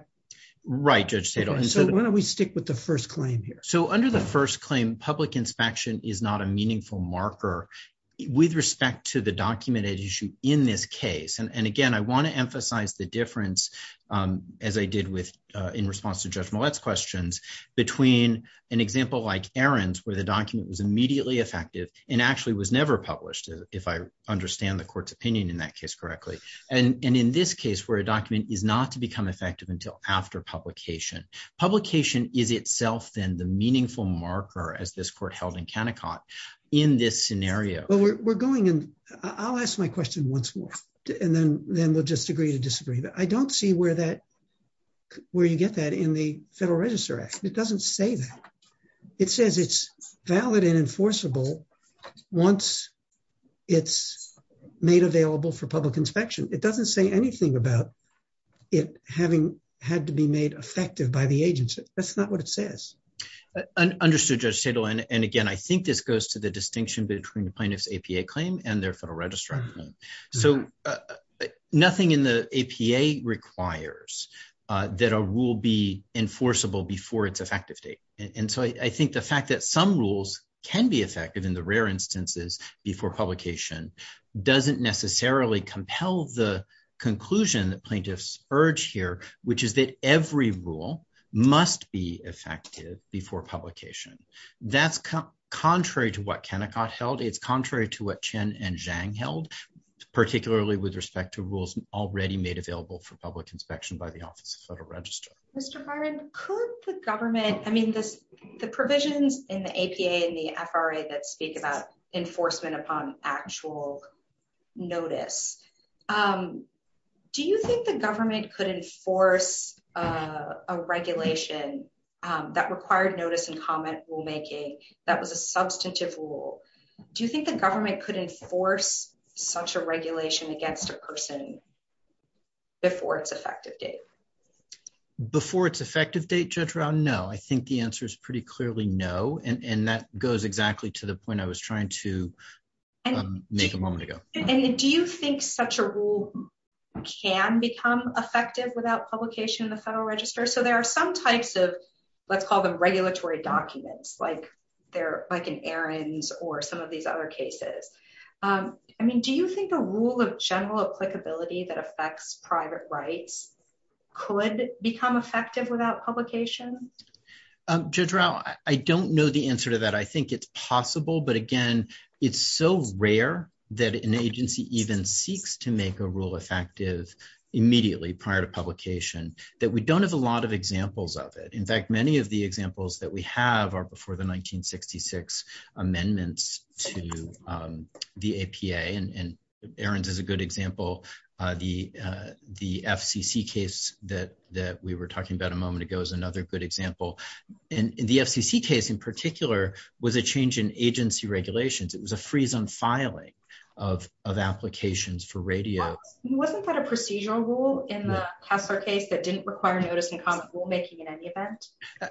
Why don't we stick with the first claim here? Under the first claim, public inspection is not a meaningful marker with respect to the documented issue in this case. Again, I want to emphasize the difference as I did in response to Judge Mollett's questions between an example like Aaron's where the document was immediately effective and actually was never published, if I understand the court's opinion in that case correctly, and in this case where a document is not to become effective until after publication. Publication is itself then the meaningful marker as this court held in Kennecott in this scenario. I'll ask my question once more and then we'll just agree to disagree. I don't see where you get that in the Federal Register Act. It doesn't say that. It says it's valid and enforceable once it's made available for public inspection. It doesn't say anything about it having had to be made effective by the agency. That's not what it says. Understood, Judge Shadle. Again, I think this goes to the distinction between plaintiff's APA claim and their Federal Register claim. Nothing in the APA requires that a rule be enforceable before its effective date. I think the fact that some rules can be effective in the rare instances before publication doesn't necessarily compel the conclusion that plaintiffs urge here, which is that every rule must be effective before publication. That's contrary to what Kennecott held. It's contrary to what Chen and Zhang held, particularly with respect to rules already made available for public inspection by the Office of Federal Register. Mr. Byron, could the government, I mean, the provisions in the APA and the FRA that speak about enforcement upon actual notice, do you think the government could enforce a regulation that required notice and comment rulemaking that was a substantive rule? Do you think the government could enforce such a regulation against a person before its effective date? Before its effective date, Judge Rahn, no. I think the answer is pretty clearly no, and that goes exactly to the point I was trying to make a moment ago. Do you think such a rule can become effective without publication in the Federal Register? So there are some types of, let's call them regulatory documents, like an errand or some of these other cases. I mean, do you think a rule of general applicability that affects private rights could become effective without publication? Judge Rahn, I don't know the answer to that. I think it's possible, but again, it's so rare that an agency even seeks to make a rule effective immediately prior to publication that we don't have a lot of examples of it. In fact, many of the examples that we have are before the 1966 amendments to the APA, and Aaron's is a good example. The FCC case that we were talking about a moment ago is another good example. And the FCC case in particular was a change in agency regulations. It was a freeze on filing of applications for radio. Wasn't that a procedural rule in the Huffer case that didn't require notice and comment rulemaking in any event?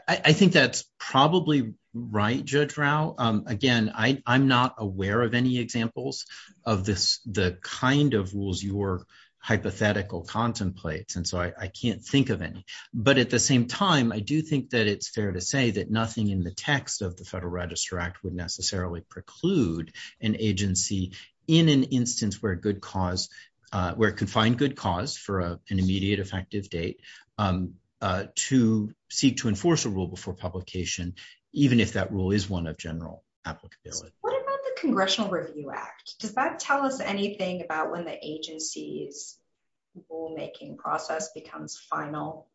I think that's probably right, Judge Rahn. Again, I'm not aware of any examples of the kind of rules your hypothetical contemplates, and so I can't think of any. But at the same time, I do think that it's fair to say that nothing in the text of the Federal Register Act would necessarily preclude an agency in an instance where it could find good cause for an immediate effective date to seek to enforce a rule before publication, even if that rule is one of general applicability. What about the Congressional Review Act? Does that tell us anything about when the agency's rulemaking process becomes final?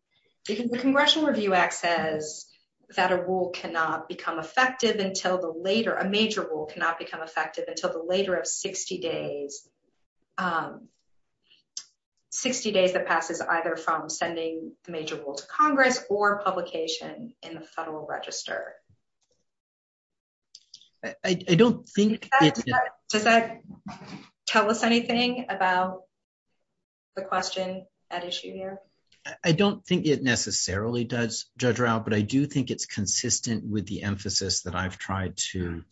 The Congressional Review Act says that a major rule cannot become effective until the later of 60 days that passes either from sending a major rule to Congress or publication in the Federal Register. Does that tell us anything about the question at issue here? I don't think it necessarily does, Judge Rahn, but I do think it's consistent with the emphasis that I've tried to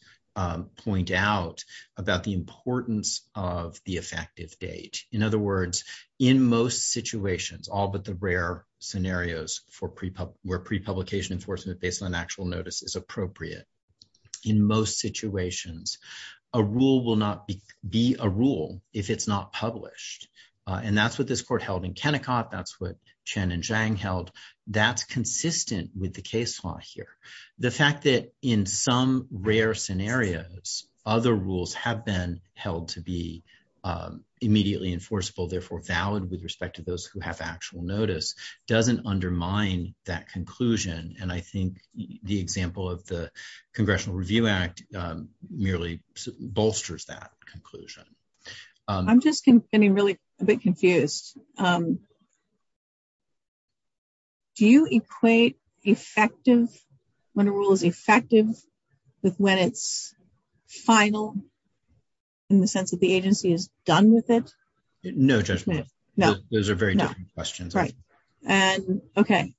point out about the importance of the effective date. In other words, in most situations, all but the rare scenarios where pre-publication enforcement based on actual notice is appropriate, in most situations, a rule will not be a rule if it's not published. And that's what this court held in Kennecott. That's what Chen and Zhang held. That's consistent with the case law here. The fact that in some rare scenarios other rules have been held to be immediately enforceable, therefore valid with respect to those who have actual notice, doesn't undermine that conclusion. And I think the example of the Congressional Review Act merely bolsters that conclusion. I'm just getting really a bit confused. Do you equate effective, when a rule is effective, with when it's final, in the sense that the agency is done with it? No, Judge Moore. Those are very different questions. Okay.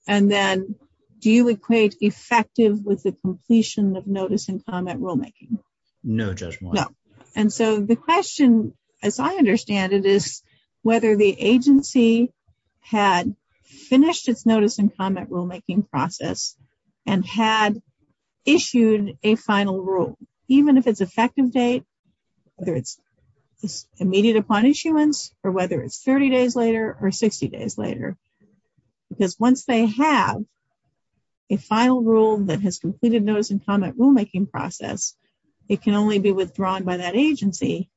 And then, do you equate effective with the completion of notice and comment rulemaking? No, Judge Moore. And so the question, as I understand it, is whether the agency had finished its notice and comment rulemaking process and had issued a final rule, even if it's effective date, whether it's immediate upon issuance, or whether it's 30 days later or 60 days later. Because once they have a final rule that has completed notice and comment rulemaking process, it can only be withdrawn by that agency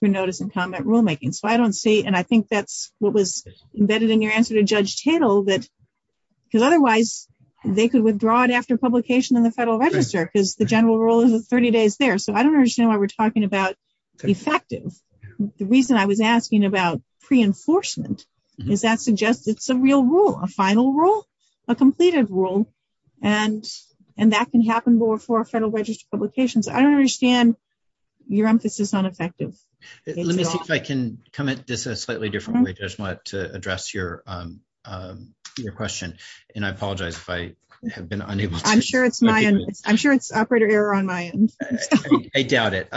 for notice and comment rulemaking. So I don't see, and I think that's what was embedded in your answer to Judge Tittle, that otherwise they could withdraw it after publication in the Federal Register, because the general rule isn't 30 days there. So I don't understand why we're talking about effective. The reason I was asking about pre-enforcement is that suggests it's a real rule, a final rule, a completed rule, and that can happen before Federal Register publications. I don't understand your emphasis on effective. Let me see if I can comment this in a slightly different way, Judge Moore, to address your question. And I apologize if I have been unable to... I'm sure it's operator error on my end. I doubt it.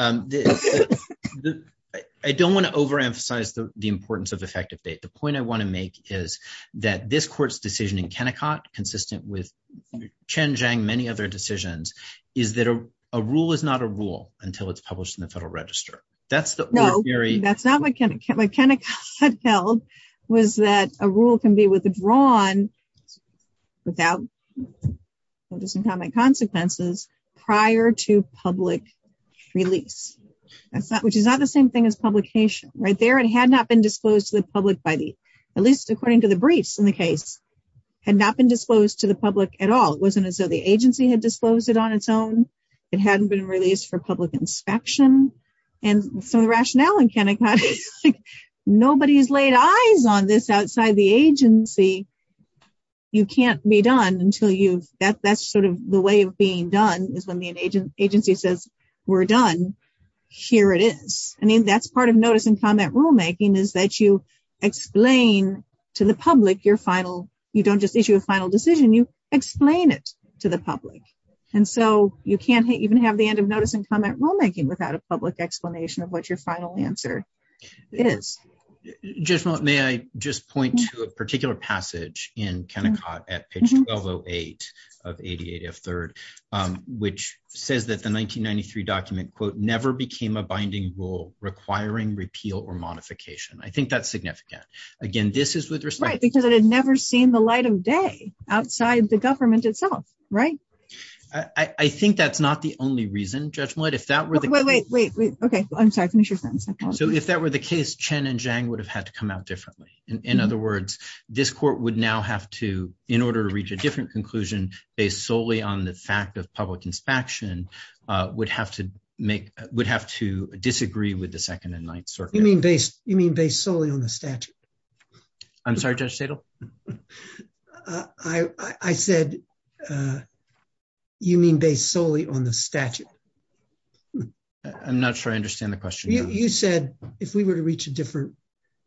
I don't want to over-emphasize the importance of effective date. The point I want to make is that this court's decision in Kennecott, consistent with Chen, Zhang, many other decisions, is that a rule is not a rule until it's published in the Federal Register. That's the... No, that's not what Kennecott tells, was that a rule can be withdrawn without notice and comment consequences prior to public release, which is not the same thing as publication. Right there, it had not been disclosed to the public body, at least according to the briefs in the case, had not been disclosed to the public at all. It wasn't as though the agency had disclosed it on its own. It hadn't been released for public inspection. And some of the rationale in Kennecott is nobody has laid eyes on this outside the agency. You can't be done until you... That's sort of the way of being done, is when the agency says, we're done. Here it is. I mean, that's part of notice and comment rulemaking, is that you explain to the public your final... You don't just issue a final decision, you explain it to the public. And so you can't even have the end of notice and comment rulemaking without a public explanation of what your final answer is. May I just point to a particular passage in Kennecott at page 1208 of 88F3, which says that the 1993 document, quote, never became a binding rule requiring repeal or modification. I think that's significant. Again, this is with respect to... Right, because it had never seen the light of day outside the government itself. Right? I think that's not the only reason, Judge Millett. If that were the case... Wait, wait, wait. Okay. I'm sorry. I'm going to shoot that. So if that were the case, Chen and Zhang would have had to come out differently. In other words, this court would now have to, in order to reach a different conclusion based solely on the fact of public inspection, would have to disagree with the Second and Ninth Circuit. You mean based solely on the statute? I'm sorry, Judge Tatel? I said you mean based solely on the statute. I'm not sure I understand the question. You said if we were to reach a different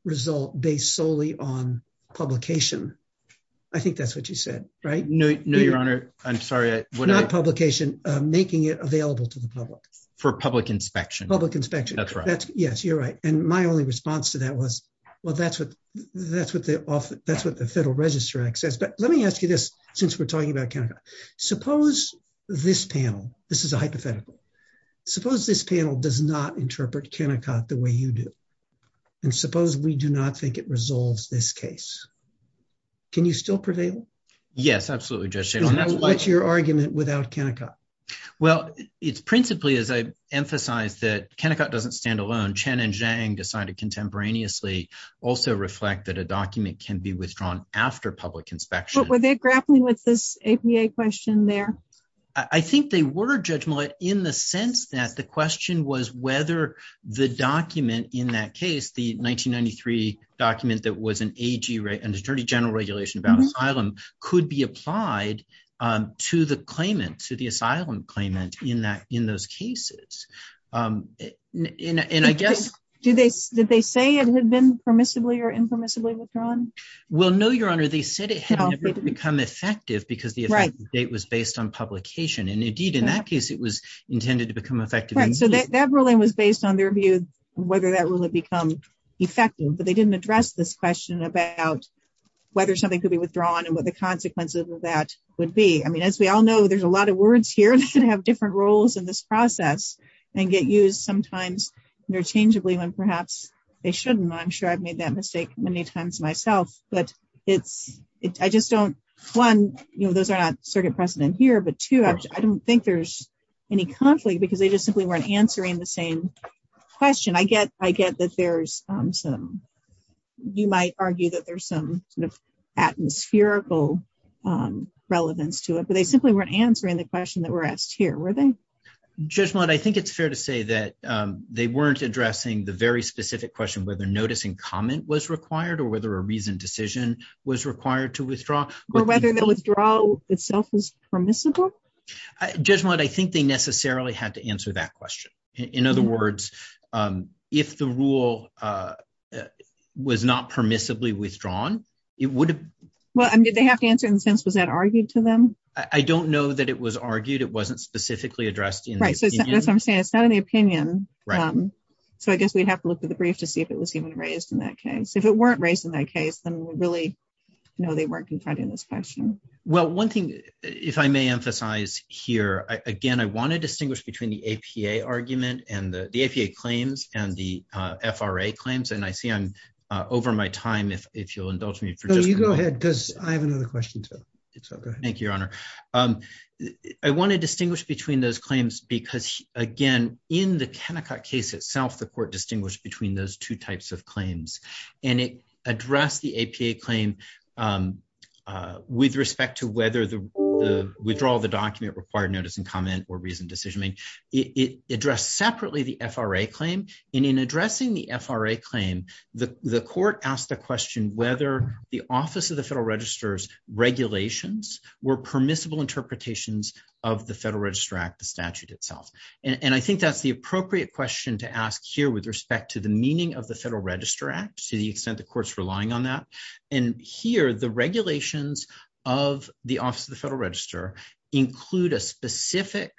result based solely on publication. I think that's what you said, right? No, Your Honor. I'm sorry. Not publication. Making it available to the public. For public inspection. Public inspection. That's right. Yes, you're right. And my only response to that was, well, that's what the Federal Register Act says. But let me ask you this, since we're talking about Kennecott. Suppose this panel... This is a hypothetical. Suppose this panel does not interpret Kennecott the way you do. And suppose we do not think it resolves this case. Can you still prevail? Yes, absolutely, Judge Shackelford. What's your argument without Kennecott? Well, it's principally, as I emphasized, that Kennecott doesn't stand alone. Chen and Zhang decided contemporaneously also reflect that a document can be withdrawn after public inspection. But were they grappling with this APA question there? I think they were, Judge Millett, in the sense that the question was whether the document in that case, the 1993 document that was an AG, an Attorney General regulation about asylum, could be applied to the claimant, to the asylum claimant in those cases. And I guess... Did they say it had been permissibly or impermissibly withdrawn? Well, no, Your Honor. They said it had become effective because the effective date was based on publication. And indeed, in that case, it was intended to become effective. So that ruling was based on their view of whether that rule had become effective. But they didn't address this question about whether something could be or would be. I mean, as we all know, there's a lot of words here that have different roles in this process and get used sometimes interchangeably when perhaps they shouldn't. I'm sure I've made that mistake many times myself. But I just don't... One, those are not precedent here. But two, I don't think there's any conflict because they just simply weren't answering the same question. I get that there's some... You might argue that there's some atmospherical relevance to it, but they simply weren't answering the question that we're asked here, were they? Judge Mudd, I think it's fair to say that they weren't addressing the very specific question of whether notice and comment was required or whether a reasoned decision was required to withdraw. Or whether the withdrawal itself was permissible? Judge Mudd, I think they necessarily had to answer that question. In other words, if the rule was not permissibly withdrawn, it would have... Well, I mean, did they have to answer in the sense, was that argued to them? I don't know that it was argued. It wasn't specifically addressed in the opinion. Right. So as I'm saying, it's not in the opinion. Right. So I guess we'd have to look at the brief to see if it was even raised in that case. If it weren't raised in that case, then we really know they weren't confronting this question. Well, one thing, if I may emphasize here, again, I want to distinguish between the APA argument and the... The APA claims and the FRA claims. And I see I'm over my time. If you'll indulge me. No, you go ahead because I have another question. Thank you, Your Honor. I want to distinguish between those claims because, again, in the Kennecott case itself, the court distinguished between those two types of claims and it addressed the APA claim with respect to whether the withdrawal of the document required notice and comment or reasoned decision. It addressed separately the FRA claim and in addressing the FRA claim, the court asked the question whether the Office of the Federal Register's regulations were permissible interpretations of the Federal Register Act, the statute itself. And I think that's the appropriate question to ask here with respect to the meaning of the Federal Register Act to the extent the court's relying on that. And here, the regulations of the Office of the Federal Register include a specific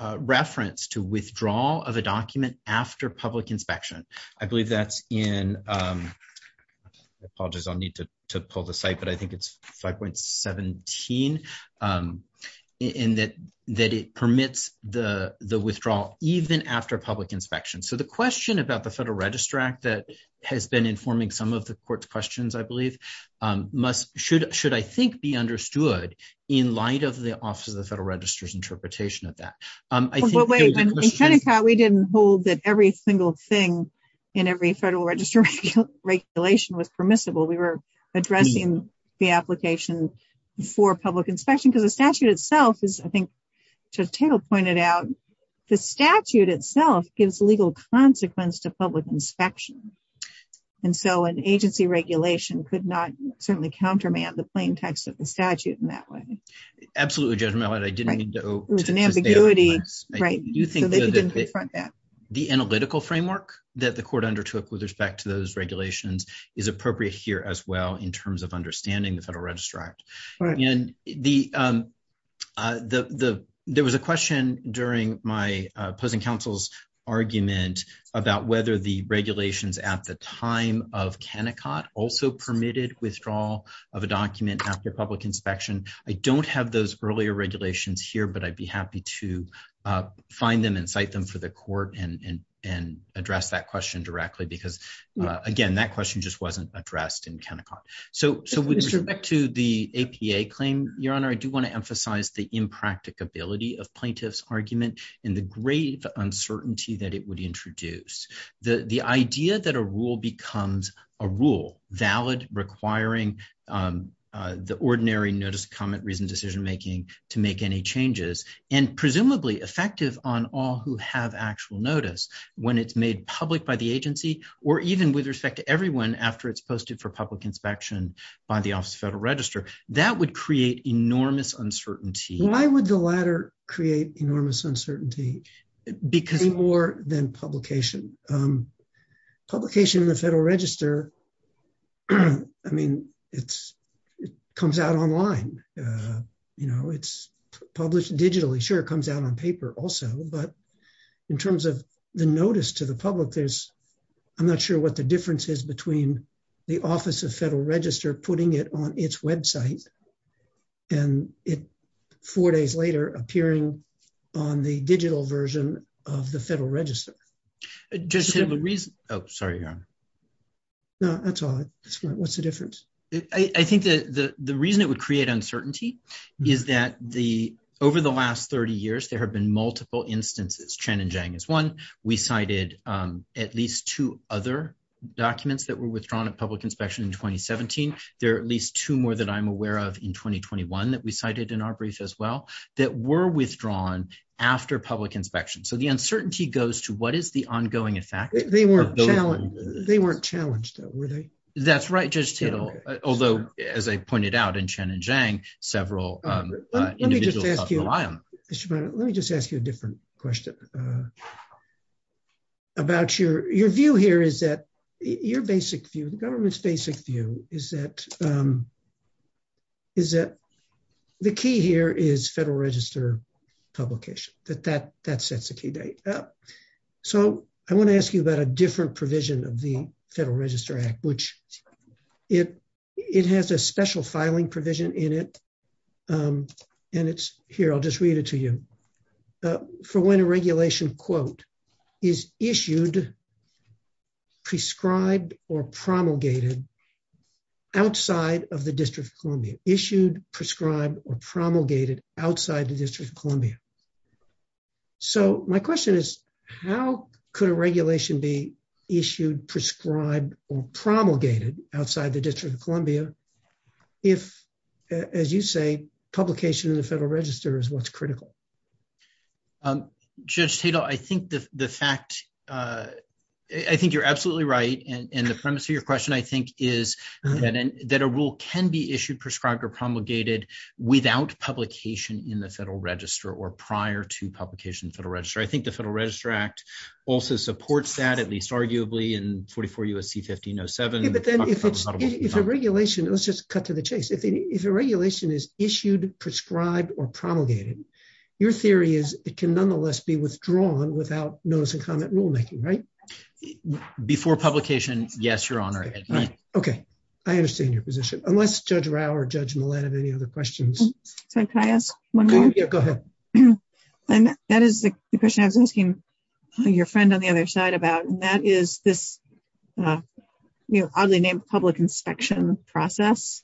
reference to withdrawal even after public inspection. I believe that's in... Apologies, I'll need to pull the site, but I think it's 5.17 in that it permits the withdrawal even after public inspection. So the question about the Federal Register Act that has been informing some of the court's questions, I believe, should, I think, be understood in light of the Office of the Federal Register's interpretation of that. In Connecticut, we didn't hold that every single thing in every Federal Register's regulation was permissible. We were addressing the application for public inspection because the statute itself is, I think as Tatel pointed out, the statute itself gives legal consequence to public inspection. And so an agency regulation could not certainly counterman the plain text of the statute in that way. Absolutely, Judge Mellon. It was an ambiguity. The analytical framework that the court undertook with respect to those regulations is appropriate here as well in terms of understanding the Federal Register Act. There was a question during my opposing counsel's argument about whether the regulations at the time of Kennecott also permitted withdrawal of a document after public inspection. I don't have those earlier regulations here, but I'd be happy to find them and cite them for the court and address that question directly because, again, that question just wasn't addressed in Kennecott. So with respect to the APA claim, Your Honor, I do want to emphasize the impracticability of plaintiff's argument and the grave uncertainty that it would introduce. The idea that a rule becomes a rule, valid requiring the ordinary notice, comment, reason, decision-making to make any changes and presumably effective on all who have actual notice when it's made public by the agency or even with respect to everyone after it's posted for public inspection by the Office of Federal Register, that would create enormous uncertainty. Why would the latter create enormous uncertainty? It would be more than publication. Publication in the Federal Register comes out online. It's published digitally. Sure, it comes out on paper also, but in terms of the notice to the public, I'm not sure what the difference is between the Office of Federal Register putting it on its website and four days later appearing on the digital version of the Federal Register. That's all. What's the difference? I think the reason it would create uncertainty is that over the last 30 years, there have been multiple instances. Chen and Jang is one. We cited at least two other documents that were withdrawn at public inspection in 2017. There are at least two more that I'm aware of in 2021 that we cited in our brief as well that were withdrawn after public inspection. The uncertainty goes to what is the ongoing effect? They weren't challenged, though, were they? That's right, Judge Tittle. Although, as I pointed out in Chen and Jang, several individuals talked about them. Let me just ask you a different question. Your view here is that your basic view, the government's basic view is that the key here is Federal Register publication. That sets the key there. I want to ask you about a different provision of the Federal Register Act, which it has a special filing provision in it. Here, I'll just read it to you. For when a regulation, quote, is issued, prescribed, or promulgated outside of the District of Columbia. Issued, prescribed, or promulgated outside the District of Columbia. My question is, how could a regulation be issued, prescribed, or promulgated outside the District of Columbia if, as you say, publication of the Federal Register is what's critical? Judge Tittle, I think the fact, I think you're absolutely right and the premise of your question, I think, is that a rule can be issued without publication in the Federal Register or prior to publication in the Federal Register. I think the Federal Register Act also supports that, at least arguably, in 44 U.S.C. 1507. Let's just cut to the chase. If a regulation is issued, prescribed, or promulgated, your theory is it can nonetheless be withdrawn without notice of comment rulemaking, right? Before publication, yes, Your Honor. I understand your position. Unless Judge Rau or Judge Millett have any other questions. Can I ask one more? Yeah, go ahead. That is the question I was asking your friend on the other side about, and that is this oddly named public inspection process.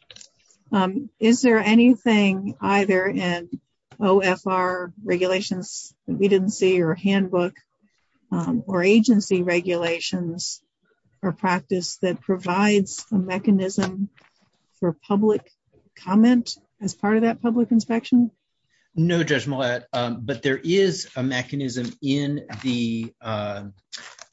Is there anything either in OFR regulations that we didn't see or handbook or agency regulations or practice that provides a mechanism for public comment as part of that public inspection? No, Judge Millett, but there is a mechanism in the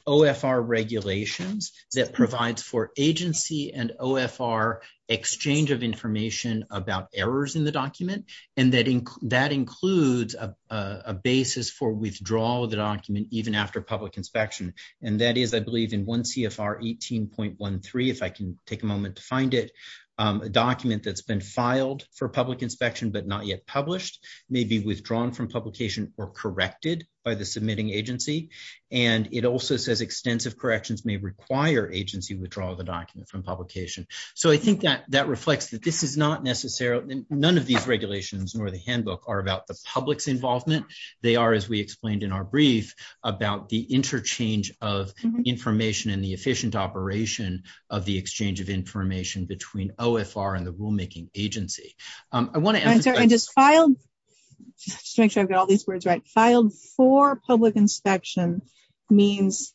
OFR regulations that provides for agency and OFR exchange of information about errors in the document and that includes a basis for withdrawal of the document even after public inspection. And that is, I believe, in 1 CFR 18.13, if I can take a moment to find it, a document that's been filed for public inspection but not yet published may be withdrawn from publication or corrected by the submitting agency and it also says extensive corrections may require agency withdrawal of the document from publication. So I think that reflects that this is not necessarily none of these regulations nor the handbook are about the public's involvement. They are, as we explained in our brief, about the interchange of information and the efficient operation of the exchange of information between OFR and the rulemaking agency. I want to ask... And is filed, just to make sure I've got all these words right, filed for public inspection means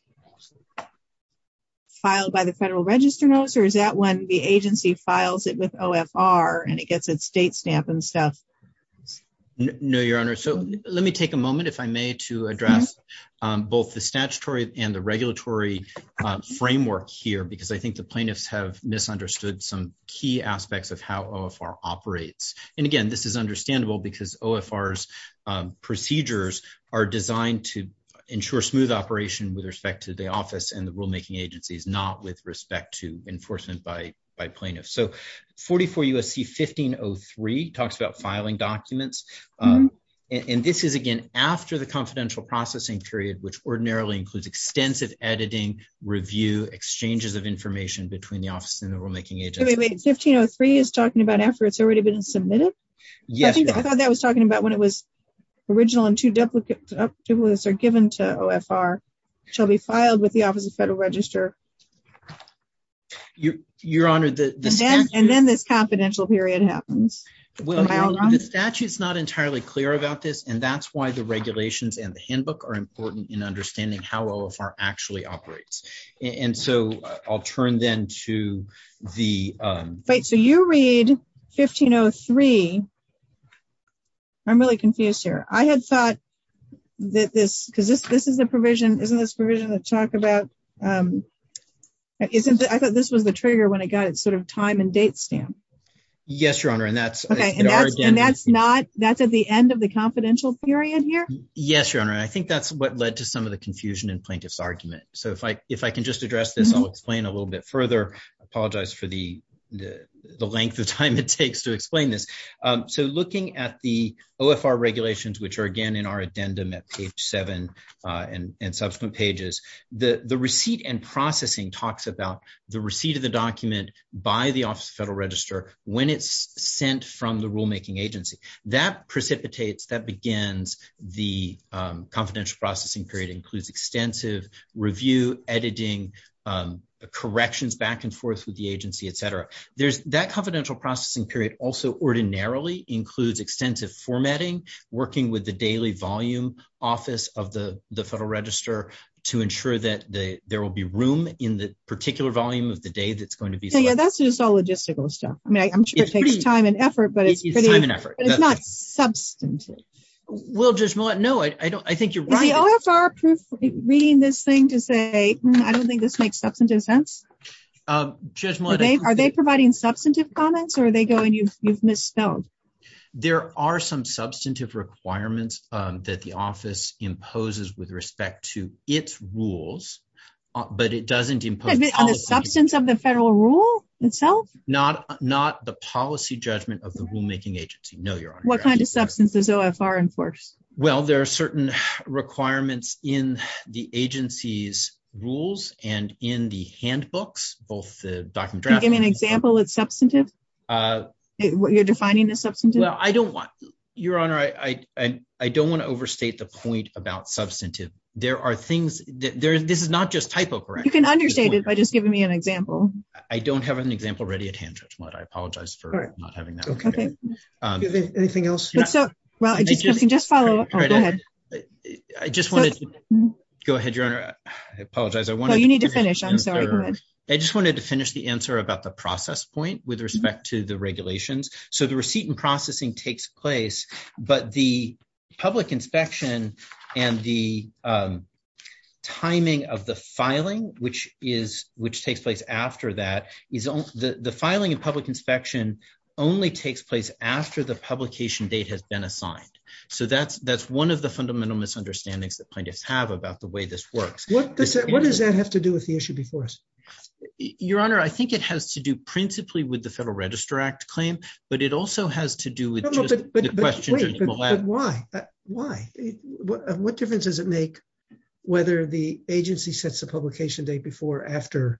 filed by the Federal Register notes or is that when the agency files it with OFR and it gets a state stamp and stuff? No, Your Honor. So let me take a moment, if I may, to address both the statutory and the regulatory framework here because I think the plaintiffs have misunderstood some key aspects of how OFR operates. And again, this is understandable because OFR's procedures are designed to ensure smooth operation with respect to the office and the rulemaking agencies, not with respect to enforcement by plaintiffs. So 44 U.S.C. 1503 talks about filing documents and this is again after the confidential processing period, which ordinarily includes extensive editing, review, exchanges of information between the office and the rulemaking agency. Wait, 1503 is talking about after it's already been submitted? Yes, Your Honor. I thought that was talking about when it was original and two duplicates are given to OFR shall be filed with the Office of Federal Register. Your Honor, the statute... And then this confidential period happens. Well, Your Honor, the statute's not entirely clear about this and that's why the regulations and the handbook are important in understanding how OFR actually operates. And so I'll turn then to the... Wait, so you read 1503. I'm really confused here. I had thought that this, because this is the provision, isn't this provision that talked about, I thought this was the trigger when it got sort of time and date stamped. Yes, Your Honor, and that's... And that's not, that's at the end of the confidential period here? Yes, Your Honor, and I think that's what led to some of the confusion in plaintiff's argument. So if I can just address this, I'll explain a little bit further. I apologize for the length of time it takes to explain this. So looking at the OFR regulations, which are again in our addendum at page seven and subsequent pages, the receipt and processing talks about the receipt of the document by the Office of the Federal Register when it's sent from the rulemaking agency. That precipitates, that begins the confidential processing period, includes extensive review, editing, corrections back and forth with the agency, etc. That confidential processing period also ordinarily includes extensive formatting, working with the daily volume office of the Federal Register to ensure that there will be room in the particular volume of the day that it's going to be sent. So yeah, that's just all logistical stuff. I mean, I'm sure it takes time and effort, but it's pretty... It's time and effort. But it's not substantive. Well, Judge Millett, no, I think you're right. Is the OFR reading this thing to say, hmm, I don't think this makes substantive sense? Judge Millett... Are they providing substantive comments or are they going to use misspelled? There are some substantive requirements that the office imposes with respect to its rules, but it doesn't impose... On the substance of the federal rule itself? Not the policy judgment of the rulemaking agency. No, Your Honor. What kind of substance is OFR enforced? Well, there are certain requirements in the agency's rules and in the handbooks, both the document... Can you give an example of substantive? You're defining the substantive? Well, I don't want... Your Honor, I don't want to overstate the point about substantive. There are things... This is not just typo correct. You can understate it by just giving me an example. I don't have an example ready at hand, Judge Millett. I apologize for not having that. Anything else? You can just follow up. Go ahead. I just wanted to... Go ahead, Your Honor. I apologize. You need to finish. I'm sorry. I just wanted to finish the answer about the process point with respect to the regulations. So the receipt and processing takes place, but the public inspection and the timing of the filing, which takes place after that, the filing and public inspection only takes place after the publication date has been assigned. So that's one of the fundamental misunderstandings that plaintiffs have about the way this works. What does that have to do with the issue before us? Your Honor, I think it has to do principally with the Federal Register Act claim, but it also has to do with... But why? What difference does it make whether the agency sets a publication date before or after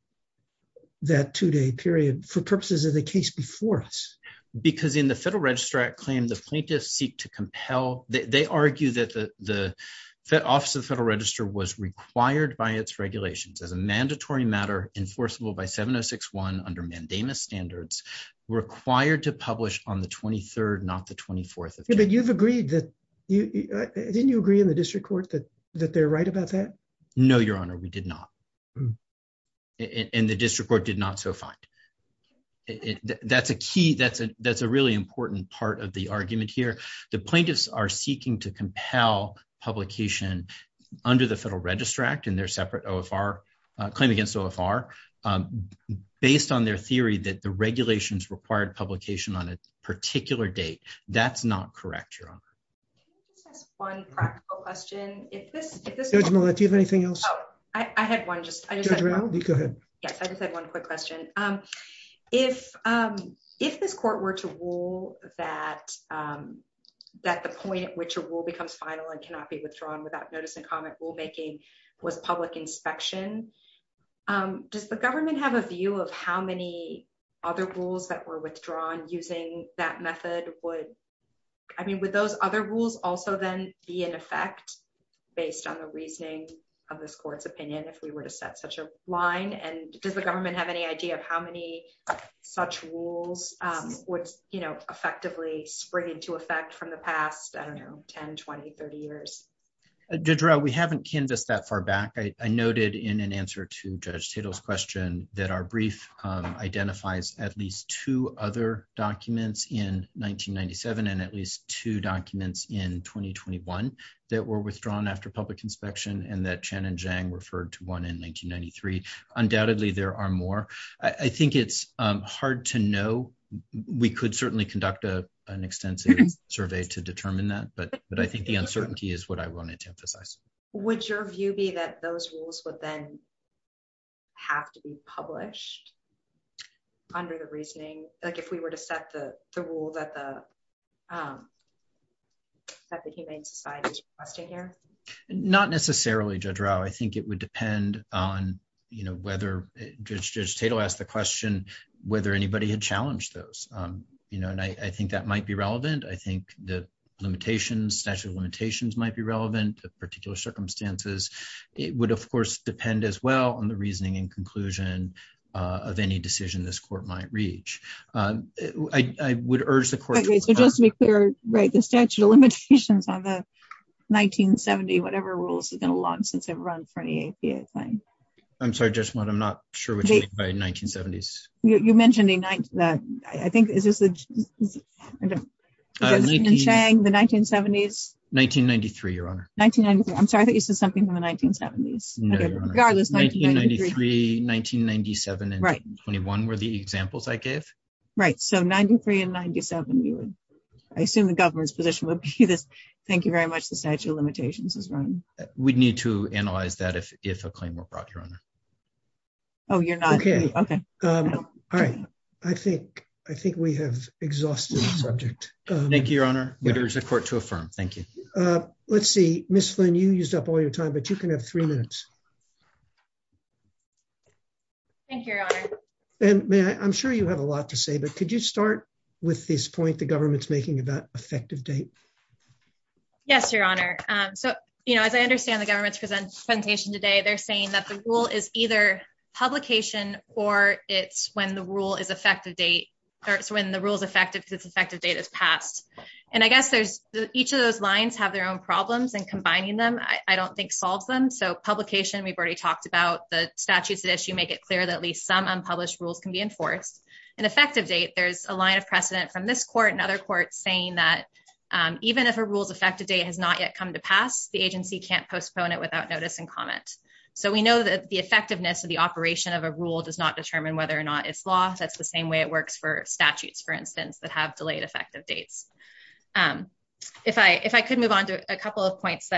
that two-day period for purposes of the case before us? Because in the Federal Register Act claim, the plaintiffs seek to compel... They argue that the Office of the Federal Register was required by its regulations as a mandatory matter enforceable by 706-1 under mandamus standards, required to publish on the date. Didn't you agree in the district court that they're right about that? No, Your Honor, we did not. And the district court did not so find. That's a key... That's a really important part of the argument here. The plaintiffs are seeking to compel publication under the Federal Register Act in their separate OFR, claim against OFR, based on their theory that the regulations required publication on a particular date. That's not correct, Your Honor. One practical question. Judge Millett, do you have anything else? I had one. Judge Millett, you go ahead. Yes, I just had one quick question. If this court were to rule that the point at which a rule becomes final and cannot be withdrawn without notice and comment rulemaking was public inspection, does the government have a view of how many other rules that were presented would... I mean, would those other rules also then be in effect based on the reasoning of this court's opinion if we were to set such a line? And does the government have any idea of how many such rules would, you know, effectively spring into effect from the past, I don't know, 10, 20, 30 years? Judge Rowe, we haven't canvassed that far back. I noted in an answer to Judge Tittle's question that our brief identifies at least two other documents in 1997 and at least two documents in 2021 that were withdrawn after public inspection and that Chen and Zhang referred to one in 1993. Undoubtedly, there are more. I think it's hard to know. We could certainly conduct an extensive survey to determine that, but I think the uncertainty is what I wanted to emphasize. Would your view be that those rules would then have to be published under the reasoning, like if we were to set the rule that the humane society is subject here? Not necessarily, Judge Rowe. I think it would depend on, you know, whether... Judge Tittle asked the question whether anybody had challenged those, you know, and I think that might be relevant. I think the limitations, statute of limitations might be relevant to particular circumstances. It would, of course, depend as well on the nature of any decision this court might reach. I would urge the court... Just to be clear, the statute of limitations on the 1970, whatever rules, have been around for a long time. I'm sorry, Judge Mudd, I'm not sure what you mean by 1970s. You mentioned... Chen and Zhang, the 1970s? 1993, Your Honor. I'm sorry, I thought you said something in the 1970s. No, Your Honor. 1993, 1997, and 1921 were the examples I gave. Right. So, 1993 and 1997 I assume the Governor's position would be this. Thank you very much. The statute of limitations is wrong. We'd need to analyze that if a claim were brought, Your Honor. Oh, you're not... Okay. I think we have exhausted the subject. Thank you, Your Honor. There is a court to affirm. Thank you. Let's see. Ms. Flynn, you have the floor. Thank you, Your Honor. I'm sure you have a lot to say, but could you start with this point the government's making about effective date? Yes, Your Honor. So, as I understand the government's presentation today, they're saying that the rule is either publication or it's when the rule is effective date, or it's when the rule is effective because effective date is passed. And I guess each of those lines have their own problems, and combining them I don't think solves them. So, publication, we've already talked about. The statutes of issue make it clear that at least some unpublished rules can be enforced. And effective date, there's a line of precedent from this court and other courts saying that even if a rule's effective date has not yet come to pass, the agency can't postpone it without notice and comment. So, we know that the effectiveness of the operation of a rule does not determine whether or not it's law. That's the same way it works for statutes, for instance, that have delayed effective dates. If I could move on to a couple of points.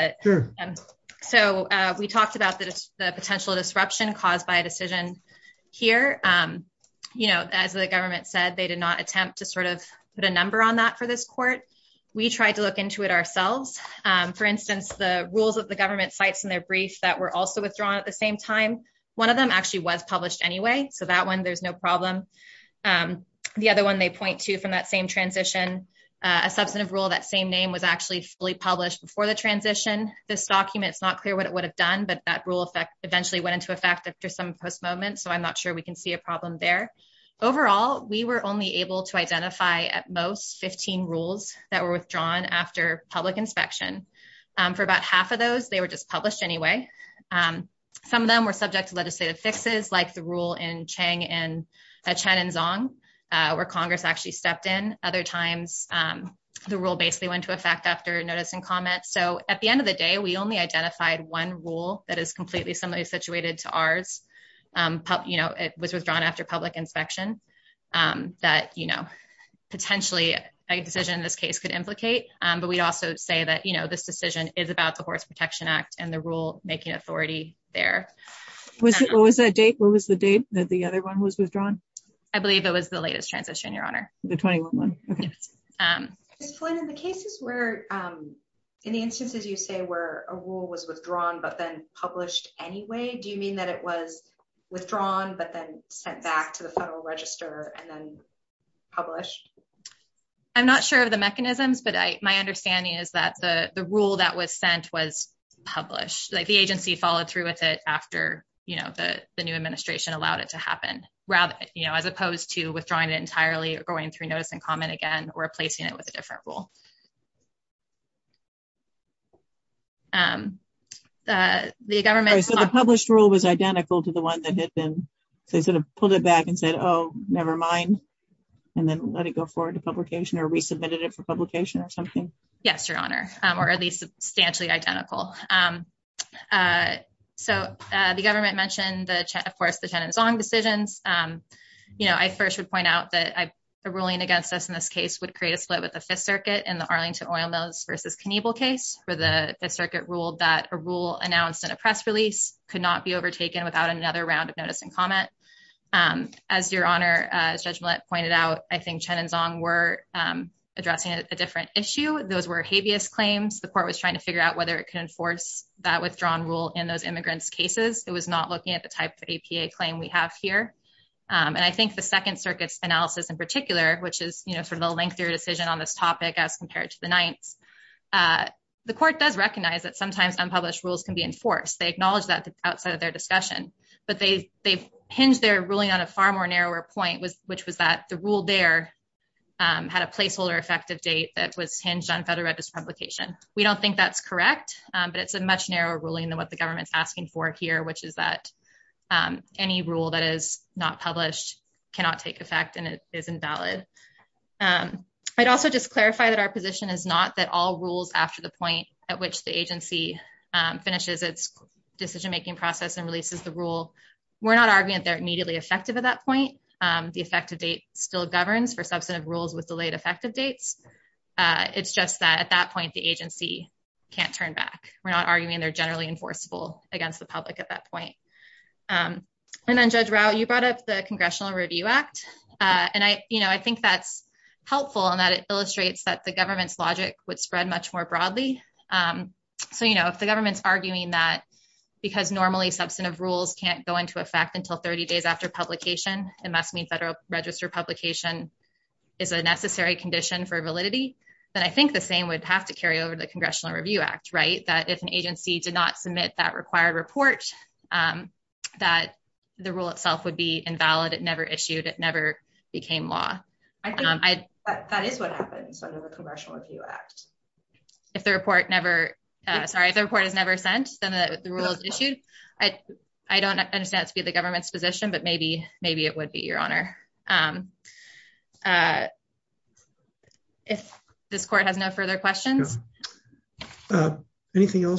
So, we talked about the potential disruption caused by a decision here. As the government said, they did not attempt to sort of put a number on that for this court. We tried to look into it ourselves. For instance, the rules that the government cites in their briefs that were also withdrawn at the same time, one of them actually was published anyway, so that one there's no problem. The other one they point to from that same transition, a substantive rule, that same name was actually fully published before the transition. This document is not clear what it would have done, but that rule eventually went into effect after some post-movement, so I'm not sure we can see a problem there. Overall, we were only able to identify, at most, 15 rules that were withdrawn after public inspection. For about half of those, they were just published anyway. Some of them were subject to legislative fixes, like the rule in Chang and Zhang, where Congress actually stepped in. Other times, the rule basically went into effect after notice and comments. At the end of the day, we only identified one rule that is completely similarly situated to ours. It was withdrawn after public inspection. Potentially, a decision in this case could implicate, but we also say that this decision is about the Horse Protection Act and the rule making authority there. What was the date that the other one was withdrawn? I believe it was the latest transition, Your Honor. In the instances you say where a rule was withdrawn but then published anyway, do you mean that it was withdrawn but then sent back to the Federal Register and then published? I'm not sure of the mechanisms, but my understanding is that the rule that was sent was published. The agency followed through with it after the new administration allowed it to happen. As opposed to withdrawing it entirely or going through notice and comment again or replacing it with a different rule. The government... The published rule was identical to the one that had been...they sort of pulled it back and said, oh, never mind, and then let it go forward to publication or resubmitted it for publication or something? Yes, Your Honor, or at least substantially identical. The government mentioned of course the Chen and Zong decisions. I first would point out that a ruling against us in this case would create a split with the Fifth Circuit in the Arlington Oil Mills v. Knievel case where the Fifth Circuit ruled that a rule announced in a press release could not be overtaken without another round of notice and comment. As Your Honor, Judge Millett pointed out, I think Chen and Zong were addressing a different issue. Those were habeas claims. The court was trying to figure out whether it could enforce that withdrawn rule in those cases. I think the Fifth Circuit's analysis in particular, which is from the lengthier decision on this topic as compared to the Ninth, the court does recognize that sometimes unpublished rules can be enforced. They acknowledge that outside of their discussion, but they hinged their ruling on a far more narrower point, which was that the rule there had a playful or effective date that was hinged on Federal Register publication. We don't think that's correct, but it's a much narrower ruling than what the government's asking for here, which is that any rule that is not published cannot take effect and is invalid. I'd also just clarify that our position is not that all rules after the point at which the agency finishes its decision-making process and releases the rule, we're not arguing that they're immediately effective at that point. The effective date still governs for substantive rules with delayed effective dates. It's just that at that point, the agency can't turn back. We're not arguing that they're effective at that point. And then Judge Rau, you brought up the Congressional Review Act. I think that's helpful in that it illustrates that the government's logic would spread much more broadly. If the government's arguing that because normally substantive rules can't go into effect until 30 days after publication, it must mean Federal Register publication is a necessary condition for validity, then I think the same would have to carry over to the Congressional Review Act, right, that if an agency did not submit that required report that the rule itself would be invalid, it never issued, it never became law. I think that is what happens under the Congressional Review Act. If the report never sent, then the rule is issued. I don't understand the government's position, but maybe it would be, Your Honor. If this Court has no further questions. Ms. Flynn,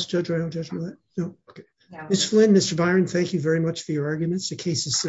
Mr. Byron, thank you very much for your arguments. The case is